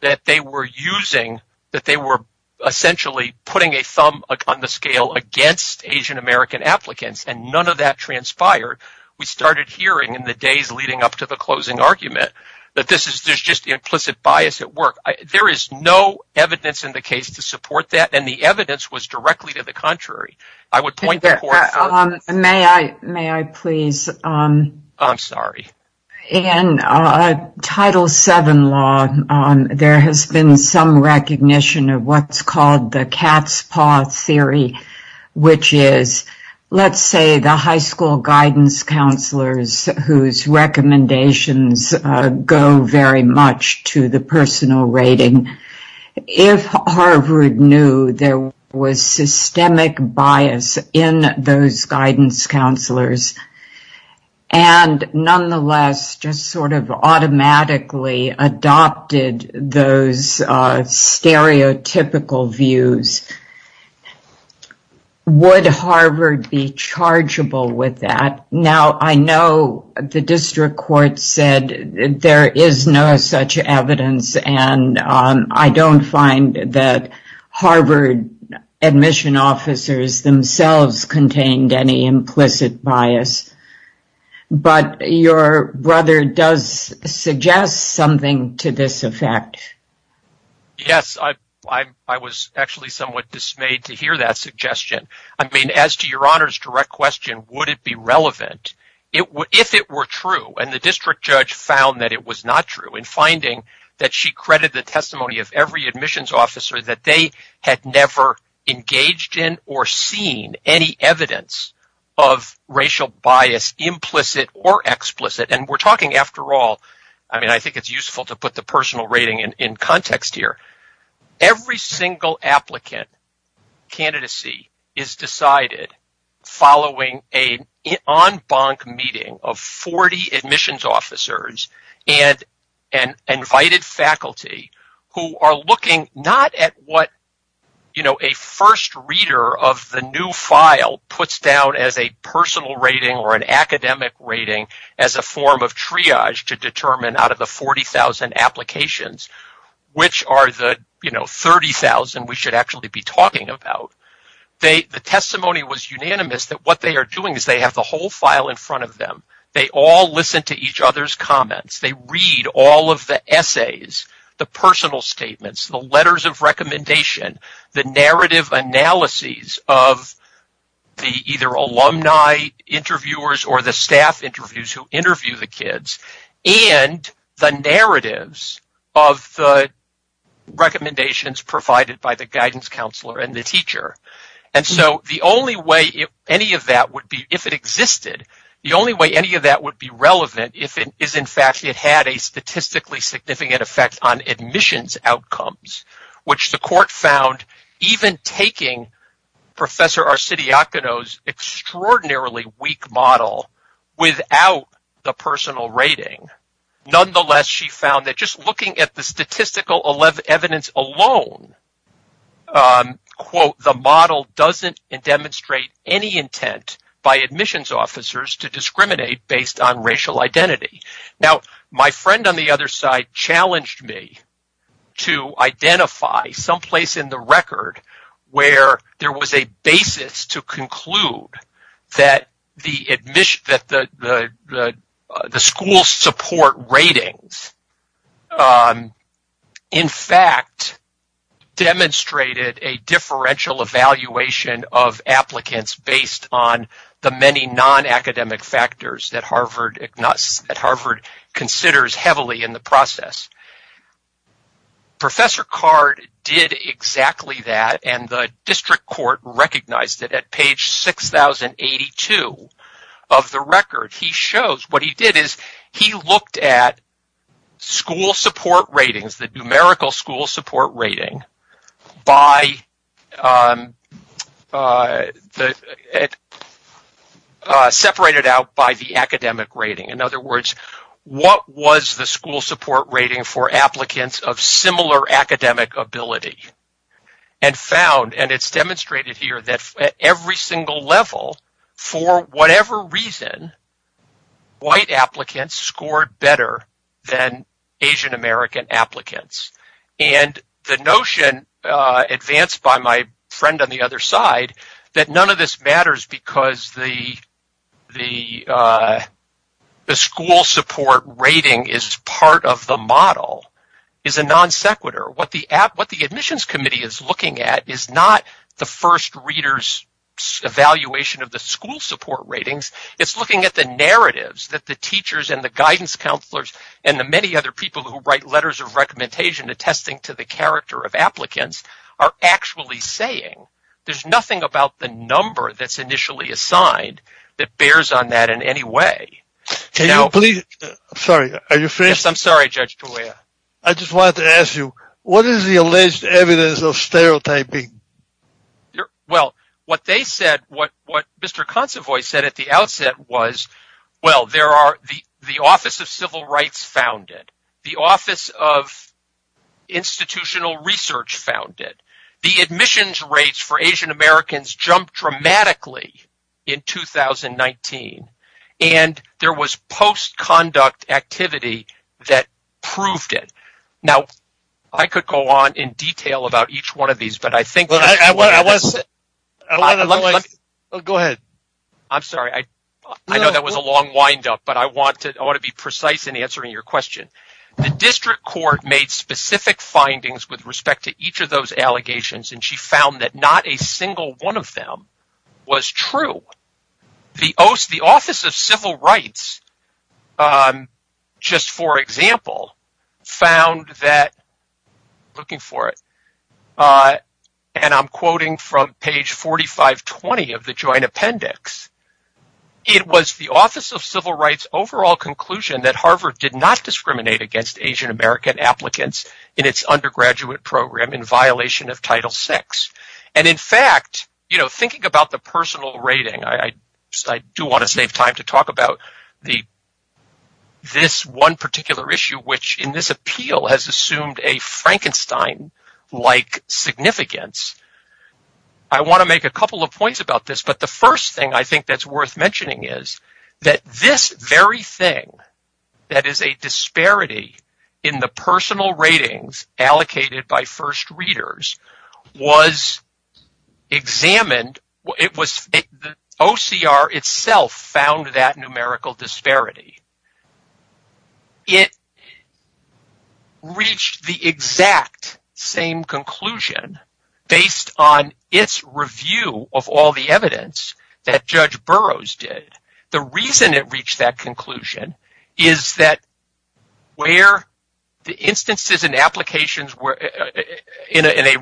that they were using, that they were essentially putting a thumb on the scale against Asian American applicants, and none of that transpired. We started hearing in the days leading up to the closing argument that this is just implicit bias at work. There is no evidence in the case to support that, and the evidence was directly to the contrary. I would point that out. May I, may I please? I'm sorry. In Title VII law, there has been some recognition of what's called the cat's paw theory, which is, let's say, the high school guidance counselors whose recommendations go very much to the personal rating. If Harvard knew there was systemic bias in those guidance counselors and nonetheless just sort of automatically adopted those stereotypical views, would Harvard be chargeable with that? Now, I know the district court said there is no such evidence, and I don't find that Harvard admission officers themselves contained any implicit bias, but your brother does suggest something to this effect. Yes, I was actually somewhat dismayed to hear that suggestion. I mean, as to your district judge found that it was not true in finding that she credited the testimony of every admissions officer that they had never engaged in or seen any evidence of racial bias, implicit or explicit, and we're talking, after all, I mean, I think it's useful to put the personal rating in context here. Every single applicant candidacy is decided following an en banc meeting of 40 admissions officers and invited faculty who are looking not at what a first reader of the new file puts down as a personal rating or an academic rating as a form of triage to determine out of the 40,000 applications, which are the 30,000 we should actually be talking about. The testimony was unanimous that what they are doing is they have the whole file in front of them. They all listen to each other's comments. They read all of the essays, the personal statements, the letters of recommendation, the narrative analyses of the either alumni interviewers or the staff interviews who interview the kids and the narratives of the recommendations provided by the guidance counselor and the teacher, and so the only way any of that would be if it existed, the only way any of that would be relevant if, in fact, it had a statistically significant effect on admissions outcomes, which the court found even taking Professor Arcidiacono's extraordinarily weak model without the personal rating. Nonetheless, she found that just looking at the statistical evidence alone, quote, the model doesn't demonstrate any intent by admissions officers to discriminate based on racial identity. Now, my friend on the other side challenged me to identify someplace in the record where there was a basis to conclude that the school support ratings, in fact, demonstrated a differential evaluation of the many non-academic factors that Harvard ignores, that Harvard considers heavily in the process. Professor Card did exactly that, and the district court recognized it at page 6082 of the record. He shows what he did is he looked at school support ratings, the numerical school support rating, separated out by the academic rating. In other words, what was the school support rating for applicants of similar academic ability and found, and it's demonstrated here, that at every single level, for whatever reason, white applicants scored better than Asian American applicants. And the notion advanced by my friend on the other side that none of this matters because the school support rating is part of the model is a non sequitur. What the admissions committee is looking at is not the first reader's evaluation of the school support ratings. It's looking at the narratives that the teachers and the guidance counselors and the many other people who write letters of recommendation attesting to the character of applicants are actually saying. There's nothing about the number that's initially assigned that bears on that in any way. I just wanted to ask you, what is the alleged evidence of stereotyping? Well, what Mr. Consovoy said at the outset was, well, the Office of Civil Rights found it. The Office of Institutional Research found it. The admissions rates for Asian Americans jumped dramatically in 2019, and there was post-conduct activity that proved it. The district court made specific findings with respect to each of those allegations, and she found that not a single one of them was true. The Office of Civil Rights, just for example, found that, looking for it, and I'm quoting from page 4520 of the Joint Appendix, it was the Office of Civil Rights overall conclusion that Harvard did not discriminate against Asian American applicants in its undergraduate program in violation of Title VI. In fact, thinking about the personal rating, I do want to save time to talk about this one particular issue which in this appeal has assumed a Frankenstein-like significance. I want to make a couple of points about this, but the first thing I think that's worth mentioning is that this very thing that is a disparity in the personal ratings allocated by first readers was examined. The OCR itself found that numerical disparity. It reached the exact same conclusion based on its review of all the evidence that Judge Burroughs did. The reason it reached that conclusion is that where the instances and applications were in a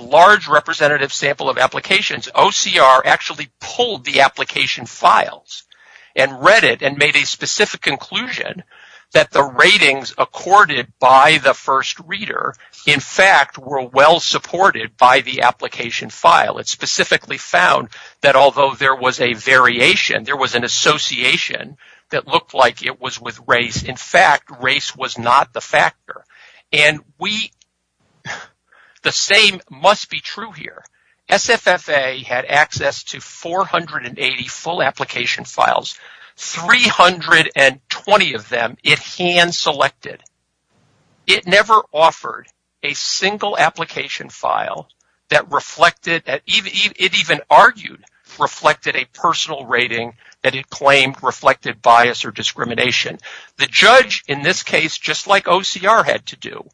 large representative sample of applications, OCR actually pulled the application files and read it and made a specific conclusion that the ratings accorded by the first reader, in fact, were well supported by the application file. It specifically found that although there was a variation, there was an association that looked like it was with race. In fact, race was not the factor. The same must be true here. SFFA had access to 480 full application files, 320 of them it hand-selected. It never offered a single application file that reflected or even argued reflected a personal rating that it claimed reflected bias or discrimination. The judge, in this case, just like OCR had to do,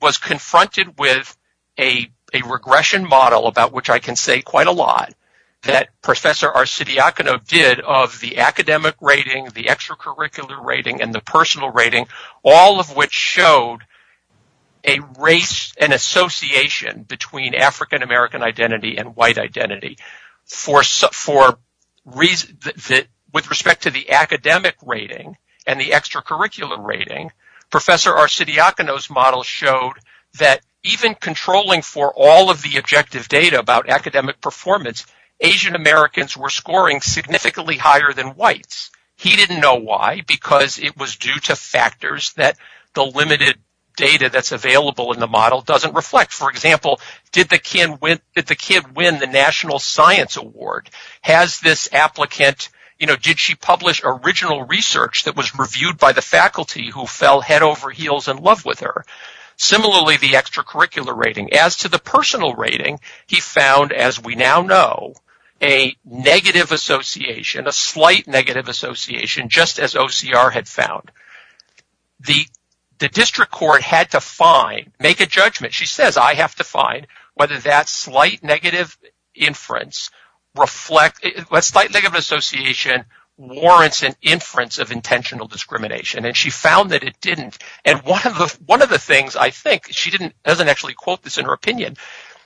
was confronted with a regression model, about which I can say quite a lot, that Professor Arsidiakono did of the academic rating, the extracurricular rating, and the personal rating, all of which showed a race and association between African American identity and white identity. With respect to the academic rating and the extracurricular rating, Professor Arsidiakono's model showed that even controlling for all of the objective data about academic performance, Asian Americans were scoring significantly higher than whites. He didn't know why because it was due to factors that the limited data that's available in the model doesn't reflect. For example, did the kid win the National Science Award? Did she publish original research that was reviewed by the faculty who fell head over heels in love with her? Similarly, the extracurricular rating. As to the personal rating, he found, as we now know, a slight negative association, just as OCR had found. The district court had to make a judgment. She said, I have to find whether that slight negative association warrants an inference of intentional discrimination. She found that it didn't. One of the things I think, she doesn't actually quote this in her opinion,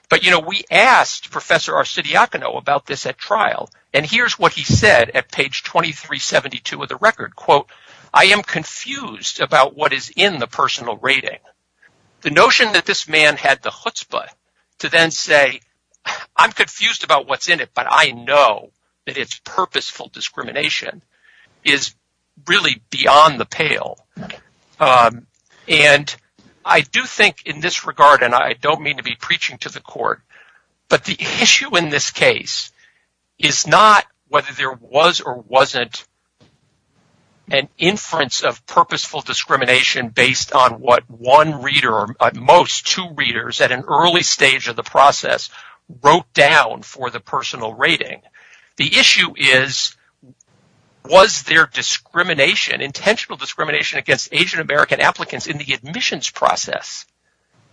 but we asked Professor Arsidiakono about this at trial. Here's what he said at page 2372 of the record, I am confused about what is in the personal rating. The notion that this man had the chutzpah to then say, I'm confused about what's in it, but I know that it's purposeful discrimination is really beyond the pale. I do think in this regard, and I don't mean to be preaching to the whether there was or wasn't an inference of purposeful discrimination based on what one reader or most two readers at an early stage of the process wrote down for the personal rating. The issue is, was there discrimination, intentional discrimination against Asian American applicants in the admissions process?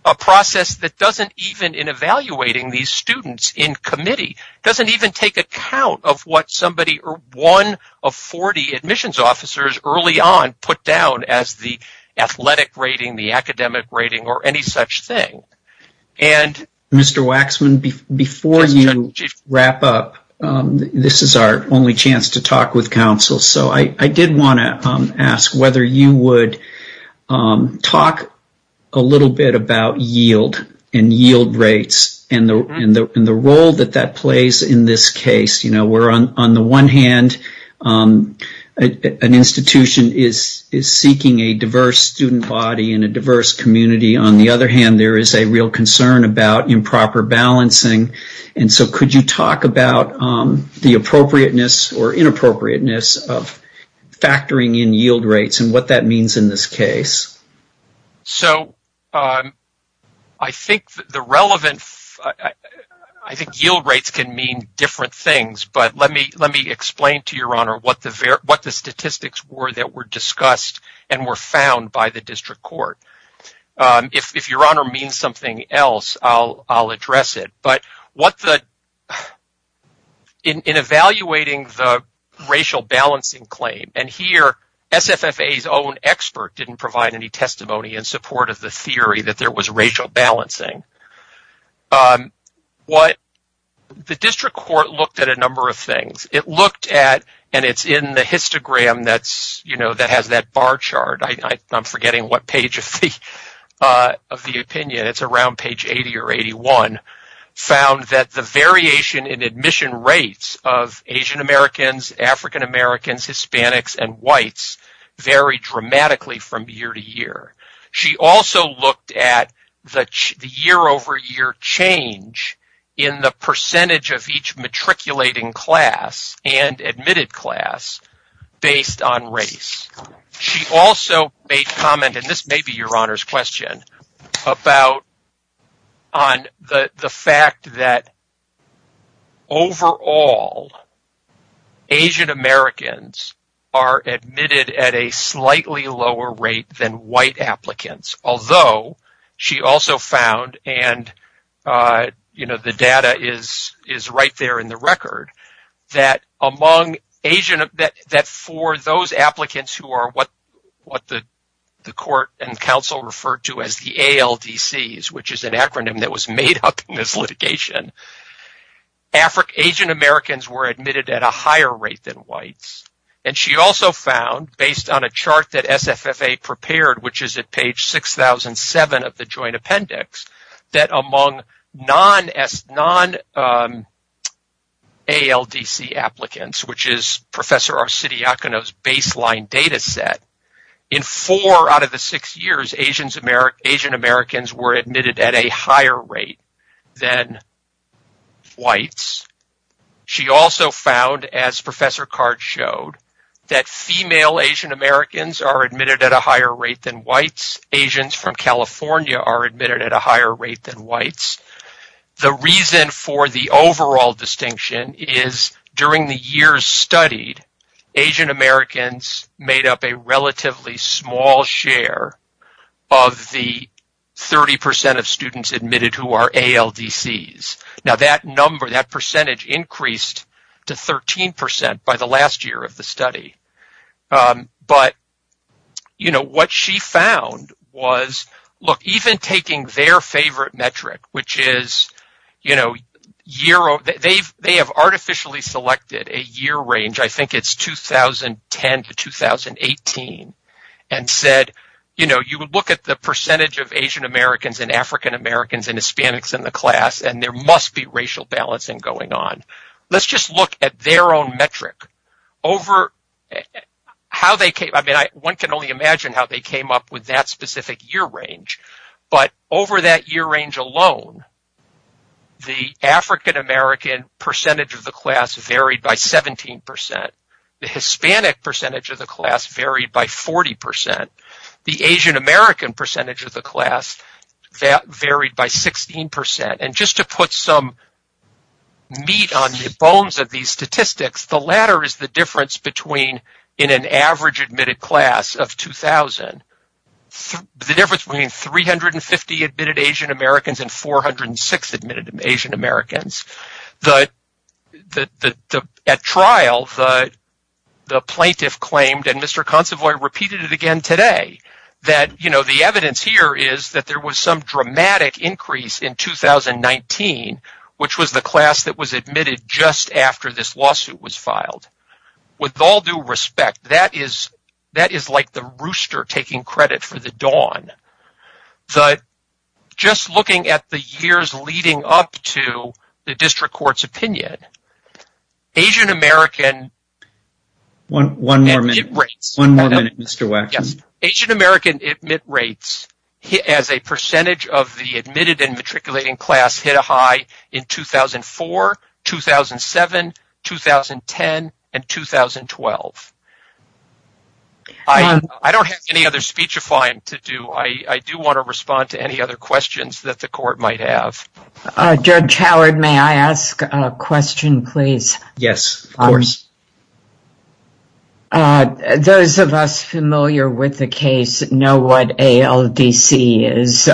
A process that doesn't even in evaluating these students in committee, doesn't even take account of what somebody or one of 40 admissions officers early on put down as the athletic rating, the academic rating or any such thing. Mr. Waxman, before you wrap up, this is our only chance to talk with counsel. I did want to ask whether you would talk a little bit about yield and yield rates and the role that plays in this case. On the one hand, an institution is seeking a diverse student body and a diverse community. On the other hand, there is a real concern about improper balancing. Could you talk about the appropriateness or inappropriateness of factoring in yield rates and what that means in this case? I think yield rates can mean different things, but let me explain to your honor what the statistics were that were discussed and were found by the district court. If your honor means something else, I'll address it. In evaluating the racial balancing claim, and here, SFFA's own expert didn't provide any testimony in support of the theory that there was racial balancing. The district court looked at a number of things. It looked at, and it's in the histogram that has that bar chart. I'm forgetting what page of the opinion. It's around page 80 or 81. It found that the variation in admission rates of Asian Americans, African Americans, Hispanics, and whites vary dramatically from year to year. She also looked at the year-over-year change in the percentage of each matriculating class and admitted class based on race. She also made a comment, and this may be your honor's question, about the fact that overall, Asian Americans are admitted at a slightly lower rate than white applicants, although she also found, and the data is right there in the record, that for those applicants who are what the court and counsel referred to as the ALDCs, which is an acronym that was made up in this litigation, Asian Americans were admitted at a higher rate than whites. She also found, based on a chart that SFFA prepared, which is at page 6007 of the joint appendix, that among non-ALDC applicants, which is Professor Arcidiakouna's baseline data set, in four out of the six years, Asian Americans were admitted at a higher rate than whites. She also found, as Professor Card showed, that female Asian Americans are admitted at a higher rate than whites. Asians from California are admitted at a higher rate than whites. The reason for the overall distinction is during the years studied, Asian Americans made up a relatively small share of the 30% of students admitted who are ALDCs. Now, that number, that 13% by the last year of the study, but what she found was even taking their favorite metric, they have artificially selected a year range, I think it's 2010 to 2018, and said you would look at the percentage of Asian Americans and African Americans and Hispanics in the class and there their own metric. One can only imagine how they came up with that specific year range, but over that year range alone, the African American percentage of the class varied by 17%, the Hispanic percentage of the class varied by 40%, the Asian American percentage of the class varied by 16%. Just to put some meat on the bones of these statistics, the latter is the difference between an average admitted class of 2000, the difference between 350 admitted Asian Americans and 406 admitted Asian Americans. At trial, the plaintiff claimed and Mr. Consovoy repeated it today, that the evidence here is that there was some dramatic increase in 2019, which was the class that was admitted just after this lawsuit was filed. With all due respect, that is like the rooster taking credit for the dawn, but just looking at the years leading up to the district court's opinion, Asian American admit rates as a percentage of the admitted and matriculating class hit a high in 2004, 2007, 2010, and 2012. I don't have any other speech to do, I do want to respond to any other questions that the court might have. Judge Howard, may I ask a question, please? Yes, of course. Those of us familiar with the case know what ALDC is,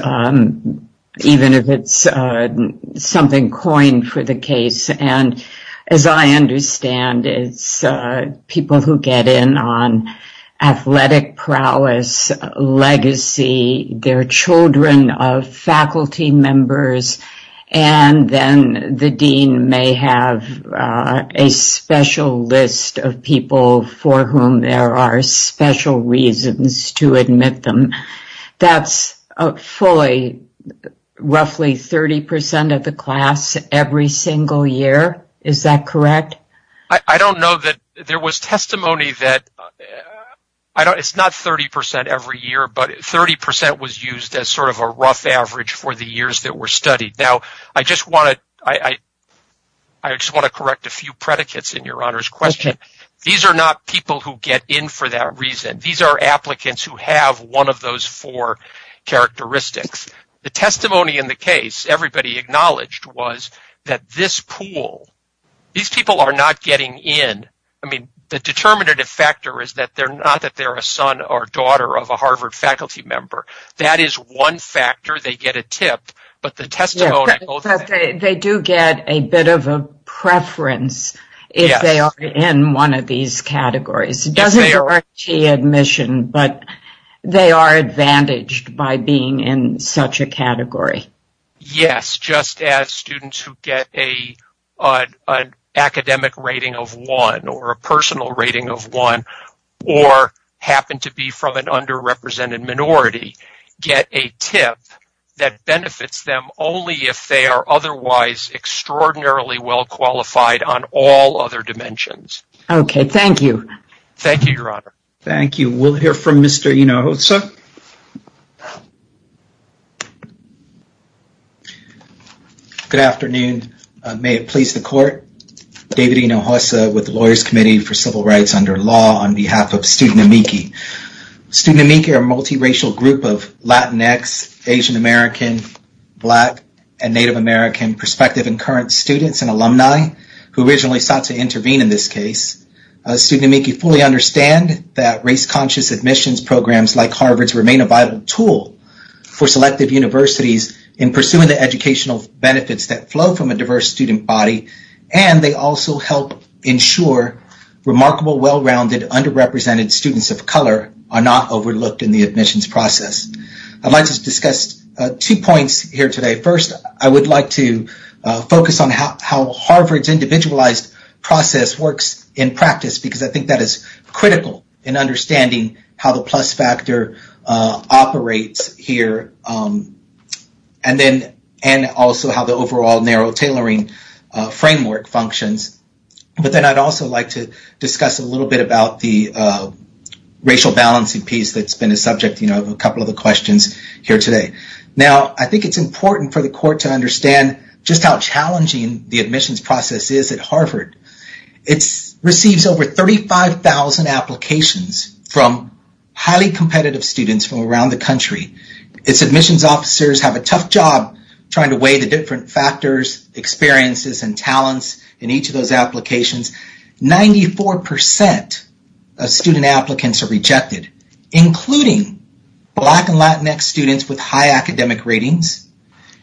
even if it's something coined for the case, and as I understand, it's people who get in on athletic prowess, legacy, they're children of faculty members, and then the dean may have a special list of people for whom there are special reasons to admit them. That's fully, roughly 30% of the class every single year, is that correct? I don't know that there was testimony that, it's not 30% every year, but 30% was used as sort of a rough average for the years that were studied. Now, I just want to correct a few predicates in your honor's question. These are not people who get in for that reason, these are applicants who have one of those four characteristics. The testimony in the case, everybody acknowledged, was that this pool, these people are not getting in. I mean, the determinative factor is that they're not that they're a son or daughter of a Harvard faculty member. That is one factor, they get a tip, but the testimony... They do get a bit of a preference if they are in one of these categories. It doesn't direct the admission, but they are advantaged by being in such a category. Yes, just as students who get an academic rating of one, or a personal rating of one, or happen to be from an underrepresented minority, get a tip that benefits them only if they are otherwise extraordinarily well qualified on all other levels. Thank you, sir. Good afternoon. May it please the court. David Hinojosa with the Lawyers Committee for Civil Rights Under Law on behalf of Student Amici. Student Amici are a multiracial group of Latinx, Asian American, Black, and Native American prospective and current students and alumni who originally sought to intervene in this case. Student Amici fully understand that race-conscious admissions programs like Harvard's remain a vital tool for selective universities in pursuing the educational benefits that flow from a diverse student body, and they also help ensure remarkable, well-rounded, underrepresented students of color are not overlooked in the admissions process. I'd like to discuss two points here today. First, I would like to focus on how Harvard's plus factor operates here, and also how the overall narrow tailoring framework functions. But then I'd also like to discuss a little bit about the racial balancing piece that's been a subject of a couple of the questions here today. Now, I think it's important for the court to understand just how challenging the admissions process is at Harvard. It receives over 35,000 applications from highly competitive students from around the country. Its admissions officers have a tough job trying to weigh the different factors, experiences, and talents in each of those applications. Ninety-four percent of student applicants are rejected, including Black and Latinx students with high academic ratings,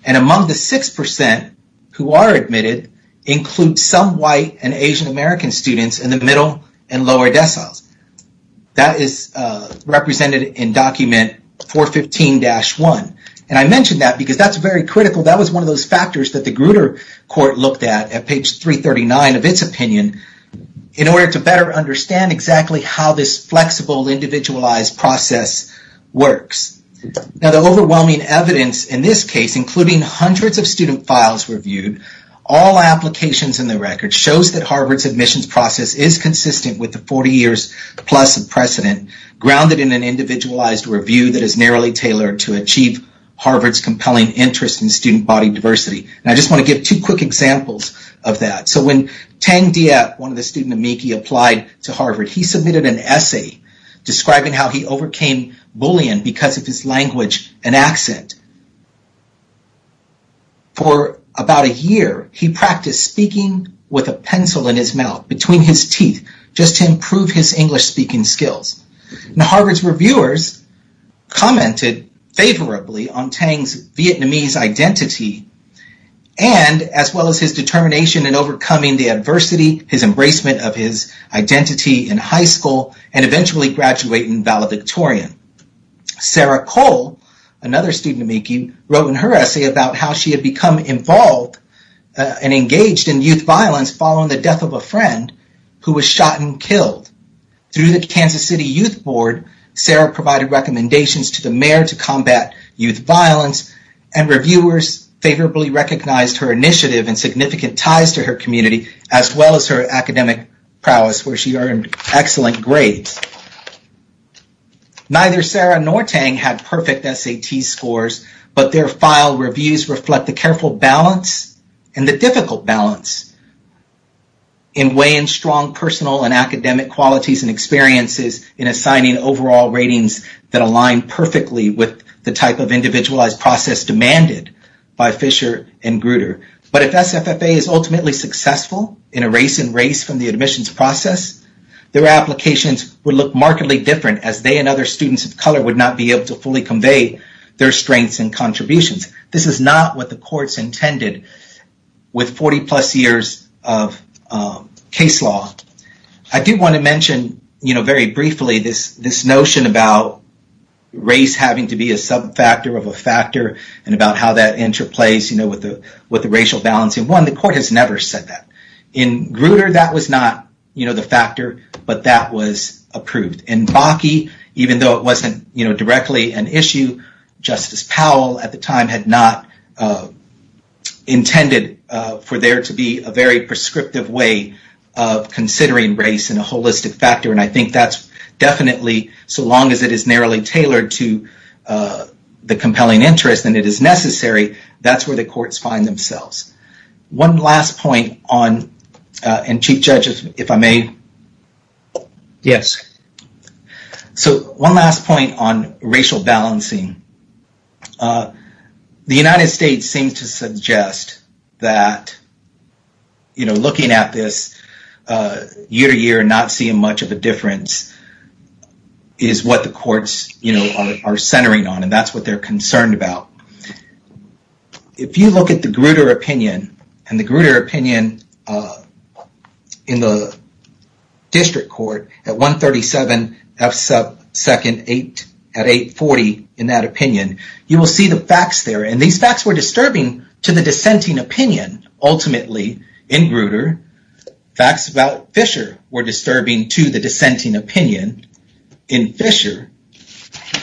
and among the six percent who are admitted include some White and Asian-American students in the middle and lower decimals. That is represented in document 415-1, and I mention that because that's very critical. That was one of those factors that the Grutter Court looked at at page 339 of its opinion in order to better understand exactly how this flexible, individualized process works. Now, the overwhelming evidence in this case, including hundreds of student files reviewed, all applications in the record shows that Harvard's admissions process is consistent with the 40 years plus of precedent, grounded in an individualized review that is narrowly tailored to achieve Harvard's compelling interest in student body diversity. I just want to give two quick examples of that. So, when Teng Diep, one of the student amici, applied to Harvard, he submitted an essay describing how he overcame bullying because of his language and accent. For about a year, he practiced speaking with a pencil in his mouth, between his teeth, just to improve his English-speaking skills. Now, Harvard's reviewers commented favorably on Teng's Vietnamese identity, and as well as his determination in overcoming the adversity, his embracement of his identity in high school, and eventually graduating valedictorian. Sarah Cole, another student amici, wrote in her essay about how she had become involved and engaged in youth violence following the death of a friend who was shot and killed. Through the Kansas City Youth Board, Sarah provided recommendations to the mayor to combat youth violence, and reviewers favorably recognized her initiative and significant ties to her career. Neither Sarah nor Teng had perfect SAT scores, but their file reviews reflect the careful balance and the difficult balance in weighing strong personal and academic qualities and experiences in assigning overall ratings that align perfectly with the type of individualized process demanded by Fisher and Bruder. But if SFFA is ultimately successful in a race-in-race from the admissions process, their applications would look markedly different as they and other students of color would not be able to fully convey their strengths and contributions. This is not what the courts intended with 40-plus years of case law. I do want to mention very briefly this notion about race having to be a subfactor of a factor and about how that interplays with the racial balance, and one, the court has never said that. In Bruder, that was not the factor, but that was approved. In Bakke, even though it wasn't directly an issue, Justice Powell at the time had not intended for there to be a very prescriptive way of considering race and a holistic factor, and I think that's definitely, so long as it is narrowly tailored to the compelling interest and it is necessary, that's where the courts find themselves. One last point on, and Chief Judge, if I may? Yes. So, one last point on racial balancing. The United States seems to suggest that looking at this year-to-year and not seeing much of a difference is what the courts are centering on, and that's what they're concerned about. If you look at the Bruder opinion, and the Bruder opinion in the district court at 137 F 2nd at 840 in that opinion, you will see the facts there, and these facts were disturbing to the dissenting opinion, ultimately, in Bruder. Facts about Fisher were disturbing to the dissenting opinion in Fisher,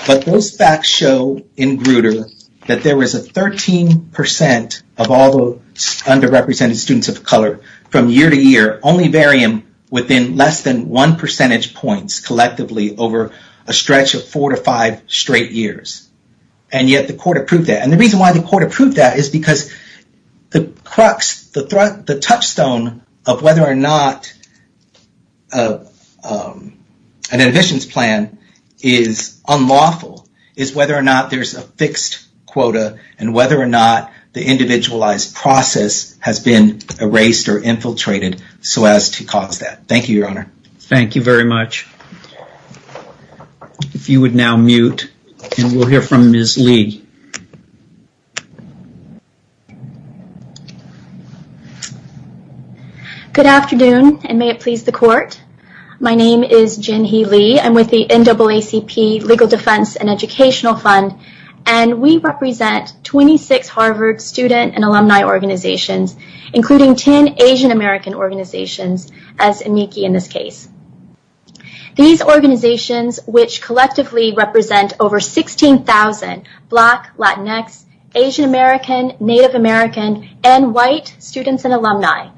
but those facts show in Bruder that there was a 13% of all the underrepresented students of color from year-to-year only varying within less than one percentage point collectively over a stretch of four to five straight years, and yet the court approved that, and the reason why the court approved that is because the touchstone of whether or not an admissions plan is unlawful is whether or not there's a fixed quota and whether or not the individualized process has been erased or infiltrated so as to cause that. Thank you, Your Honor. Thank you very much. If you would now mute, and we'll hear from Ms. Lee. Good afternoon, and may it please the court. My name is Jinhee Lee. I'm with the NAACP Legal Defense and Educational Fund, and we represent 26 Harvard student and alumni organizations, including 10 Asian American organizations, as amici in this case. These organizations, which collectively represent over 16,000 Black, Latinx, Asian American, Native American, and white students and alumni,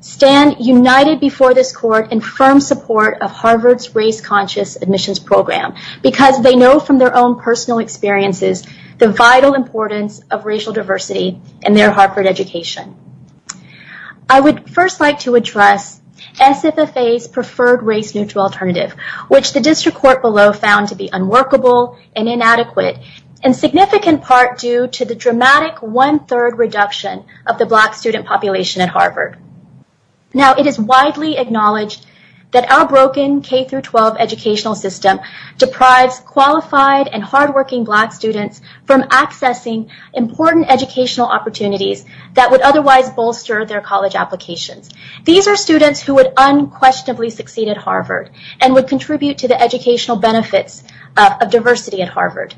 stand united before this court in firm support of Harvard's race conscious admissions program because they know from their own personal experiences the vital importance of racial diversity in their Harvard education. I would first like to address SFFA's alternative, which the district court below found to be unworkable and inadequate, in significant part due to the dramatic one-third reduction of the Black student population at Harvard. Now, it is widely acknowledged that our broken K-12 educational system deprived qualified and hardworking Black students from accessing important educational opportunities that would otherwise bolster their college application. These are students who would unquestionably succeed at Harvard and would contribute to the educational benefits of diversity at Harvard.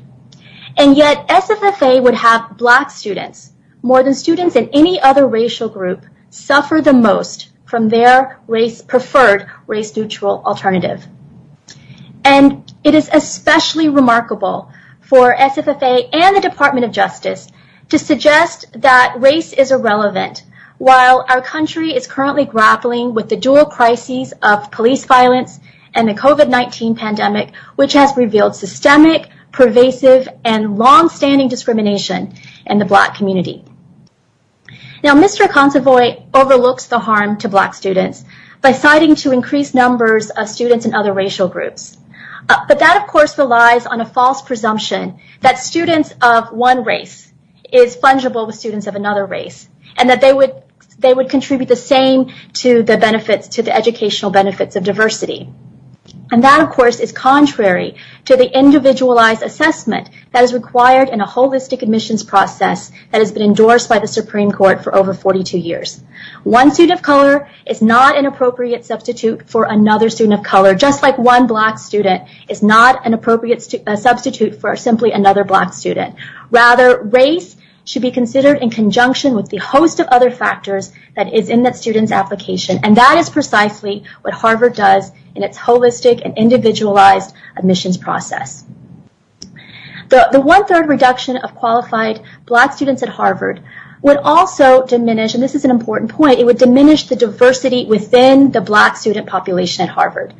And yet, SFFA would have Black students, more than students in any other racial group, suffer the most from their preferred race neutral alternative. And it is especially remarkable for SFFA and the Department of Justice to suggest that race is relevant while our country is currently grappling with the dual crises of police violence and the COVID-19 pandemic, which has revealed systemic, pervasive, and long-standing discrimination in the Black community. Now, Mr. Consovoy overlooks the harm to Black students by citing to increased numbers of students in other racial groups. But that, of course, relies on a false presumption that students of one race is fungible with students of another race, and that they would contribute the same to the educational benefits of diversity. And that, of course, is contrary to the individualized assessment that is required in a holistic admissions process that has been endorsed by the Supreme Court for over 42 years. One student of color is not an appropriate substitute for another student of color, just like one Black student is not an appropriate substitute for simply another Black student. Rather, race should be considered in conjunction with the host of other factors that is in the student's application. And that is precisely what Harvard does in its holistic and individualized admissions process. The one-third reduction of qualified Black students at Harvard would also diminish, and this is an important point, it would diminish the diversity within the Black student population at Harvard.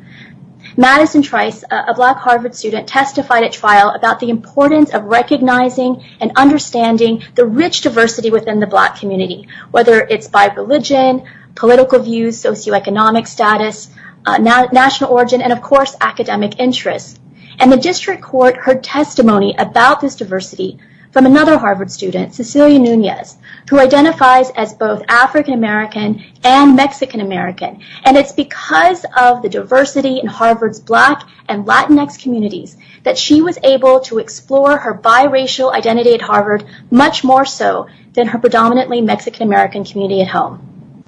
Madison Trice, a Black Harvard student, testified at trial about the importance of recognizing and understanding the rich diversity within the Black community, whether it's by religion, political views, socioeconomic status, national origin, and, of course, academic interests. And the District Court heard testimony about this diversity from another Harvard student, Cecilia Nunez, who identifies as both African-American and Mexican-American. And it's because of the diversity in Harvard's Black and Latinx communities that she was able to explore her biracial identity at Harvard much more so than her predominantly Mexican-American community at home.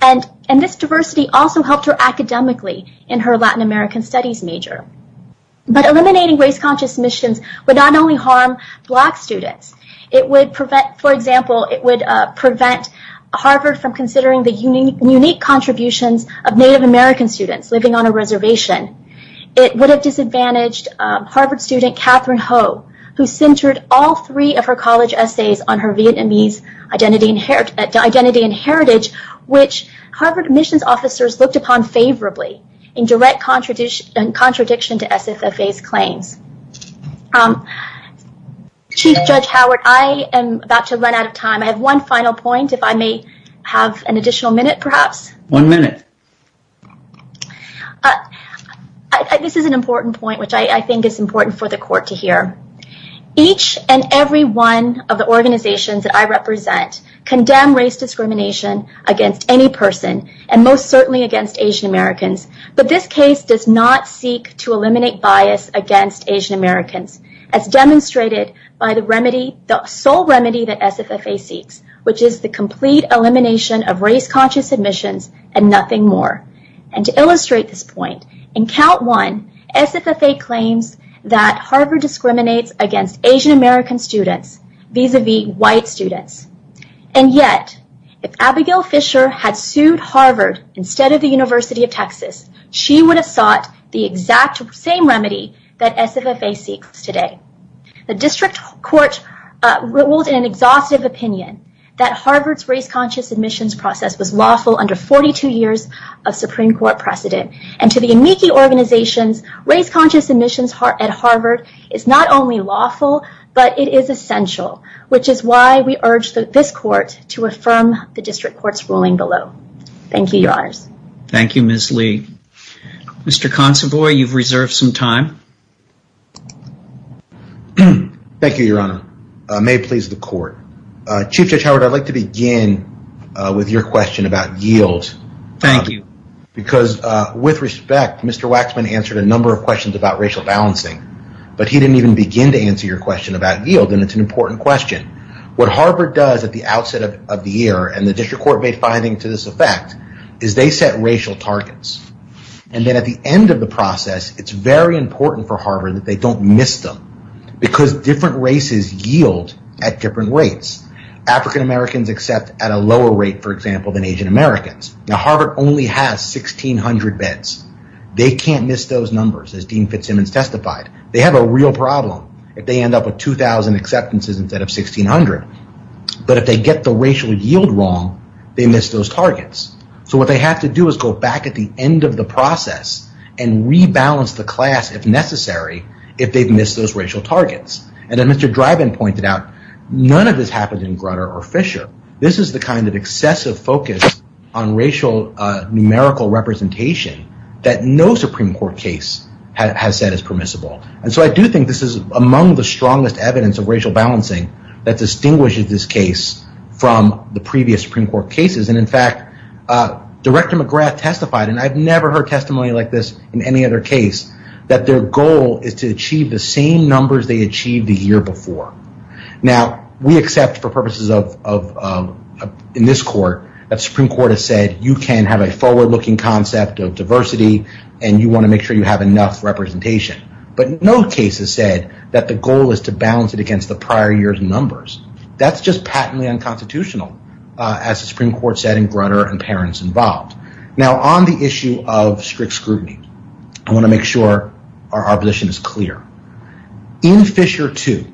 And this diversity also helped her academically in her Latin American studies major. But eliminating race-conscious admissions would not only harm Black students, it would prevent, for example, it would prevent Harvard from considering the unique contributions of Native American students living on a reservation. It would have disadvantaged Harvard student Catherine Ho, who centered all three of her college essays on her Vietnamese identity and heritage, which Harvard admissions officers looked upon favorably in direct contradiction to SSSA's claims. Chief Judge Howard, I am about to run out of time. I have one final point, if I may have an additional minute, perhaps. One minute. This is an important point, which I think is important for the Court to hear. Each and every one of the organizations that I represent condemn race discrimination against any person, and most certainly against Asian-Americans. But this case does not seek to eliminate bias against Asian-Americans as demonstrated by the remedy, the sole remedy that SSSA seeks, which is the complete elimination of race-conscious admissions and nothing more. And to illustrate this point, in Count 1, SSSA claims that Harvard discriminates against Asian-American students vis-a-vis white students. And yet, if Abigail Fisher had sued Harvard instead of the University of Texas, she would have sought the exact same remedy that SSSA seeks today. The District Court ruled in an exhaustive opinion that Harvard's race-conscious admissions process was lawful under 42 years of Supreme Court precedent. And to the amici organizations, race-conscious admissions at Harvard is not only lawful, but it is essential, which is why we urge this Court to affirm the District Court's ruling below. Thank you, Your Honor. Thank you, Ms. Lee. Mr. Consovoy, you've reserved some time. Thank you, Your Honor. May it please the Court. Chief Judge Howard, I'd like to begin with your question about yield. Thank you. Because with respect, Mr. Waxman answered a number of questions about racial balancing, but he didn't even begin to answer your question about yield, and it's an important question. What Harvard does at the outset of the year, and the District Court finding to this effect, is they set racial targets. And then at the end of the process, it's very important for Harvard that they don't miss them, because different races yield at different rates. African Americans accept at a lower rate, for example, than Asian Americans. Now, Harvard only has 1,600 beds. They can't miss those numbers, as Dean Fitzsimmons testified. They have a real problem if they end up with 2,000 acceptances instead of 1,600. But if they get the racial yield wrong, they miss those targets. So what they have to do is go back at the end of the process and rebalance the class, if necessary, if they've missed those racial targets. And as Mr. Drybin pointed out, none of this happens in Grutter or Fisher. This is the kind of excessive focus on racial numerical representation that no Supreme Court case has said is permissible. And so I do think this is among the strongest evidence of racial balancing that distinguishes this case from the previous Supreme Court cases. And in fact, Director McGrath testified, and I've never heard testimony like this in any other case, that their goal is to achieve the same numbers they achieved the year before. Now, we accept for purposes of, in this court, that Supreme Court has said you can have a forward looking concept of diversity, and you want to make sure you have enough representation. But no case has said that the goal is to balance it against the prior year's numbers. That's just patently unconstitutional, as the Supreme Court said in Grutter and parents involved. Now, on the issue of strict scrutiny, I want to make sure our opposition is clear. In Fisher too,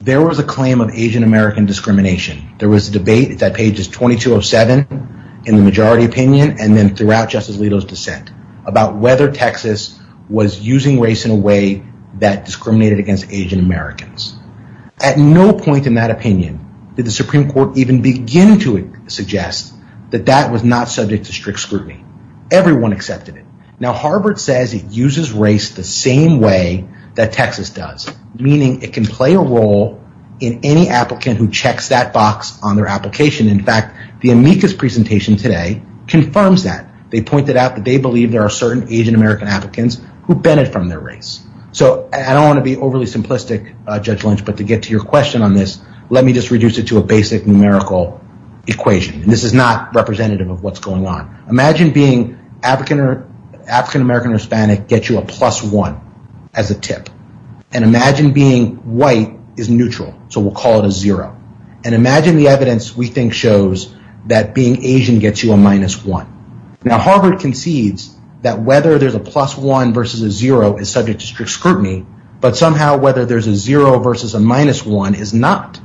there was a claim of Asian American discrimination. There was a debate that pages 2207 in the majority opinion, and then throughout Justice Alito's dissent, about whether Texas was using race in a way that discriminated against Asian Americans. At no point in that opinion did the Supreme Court even begin to suggest that that was not subject to strict scrutiny. Everyone accepted it. Now, Harvard says it uses race the same way that Texas does, meaning it can play a role in any applicant who checks that box on their application. In fact, the amicus presentation today confirms that. They pointed out that they believe there are certain Asian American applicants who bended from their race. So, I don't want to be overly simplistic, Judge Lynch, but to get to your question on this, let me just reduce it to a basic numerical equation. This is not representative of what's going on. Imagine being African American or Hispanic gets you a plus one as a tip. And imagine the evidence we think shows that being Asian gets you a minus one. Now, Harvard concedes that whether there's a plus one versus a zero is subject to strict scrutiny, but somehow whether there's a zero versus a minus one is not.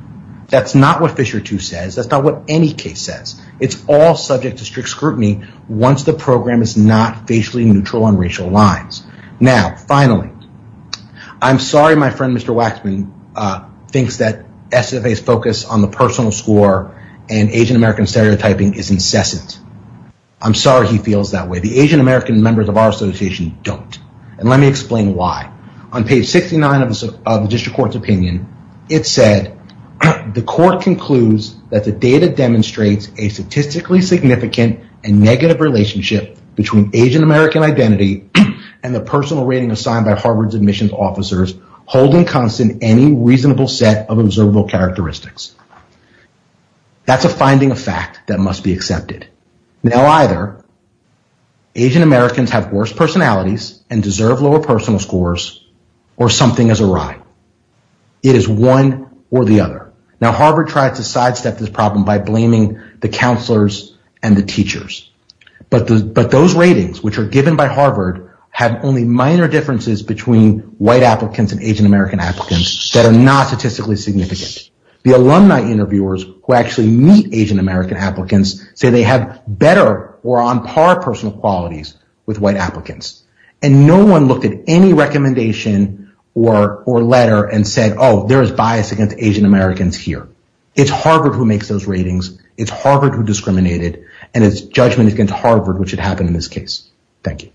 That's not what Fisher too says. That's not what any case says. It's all subject to strict scrutiny once the program is not basically neutral on racial lines. Now, finally, I'm sorry my friend Mr. Waxman thinks that SFA's focus on the personal score and Asian American stereotyping is incessant. I'm sorry he feels that way. The Asian American members of our association don't. And let me explain why. On page 69 of the district court's opinion, it said, the court concludes that the data demonstrates a statistically significant and negative relationship between Asian American identity and the personal rating assigned by Harvard's admissions officers holding constant any reasonable set of observable characteristics. That's a finding of fact that must be accepted. Now, either Asian Americans have worse personalities and deserve lower personal scores or something is awry. It is one or the other. Now, Harvard tries to sidestep this problem by blaming the counselors and the teachers. But those ratings which are given by Harvard have only minor differences between white applicants and Asian American applicants that are not statistically significant. The alumni interviewers who actually meet Asian American applicants say they have better or on par personal qualities with white applicants. And no one looked at any recommendation or letter and said, oh, there is bias against Asian Americans here. It's Harvard who makes those ratings. It's Harvard who discriminated. And it's judgment against Harvard which had happened in this case. Thank you.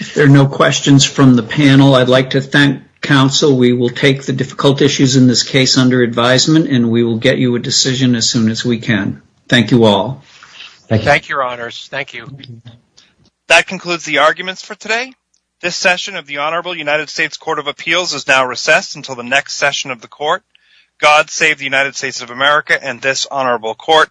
If there are no questions from the panel, I'd like to thank counsel. We will take the difficult issues in this case under advisement. And we will get you a decision as soon as we can. Thank you all. Thank you, your honors. Thank you. That concludes the arguments for today. This session of the Honorable United States Court of Appeals is now recessed until the next session of the court. God save the United States of America and this honorable court.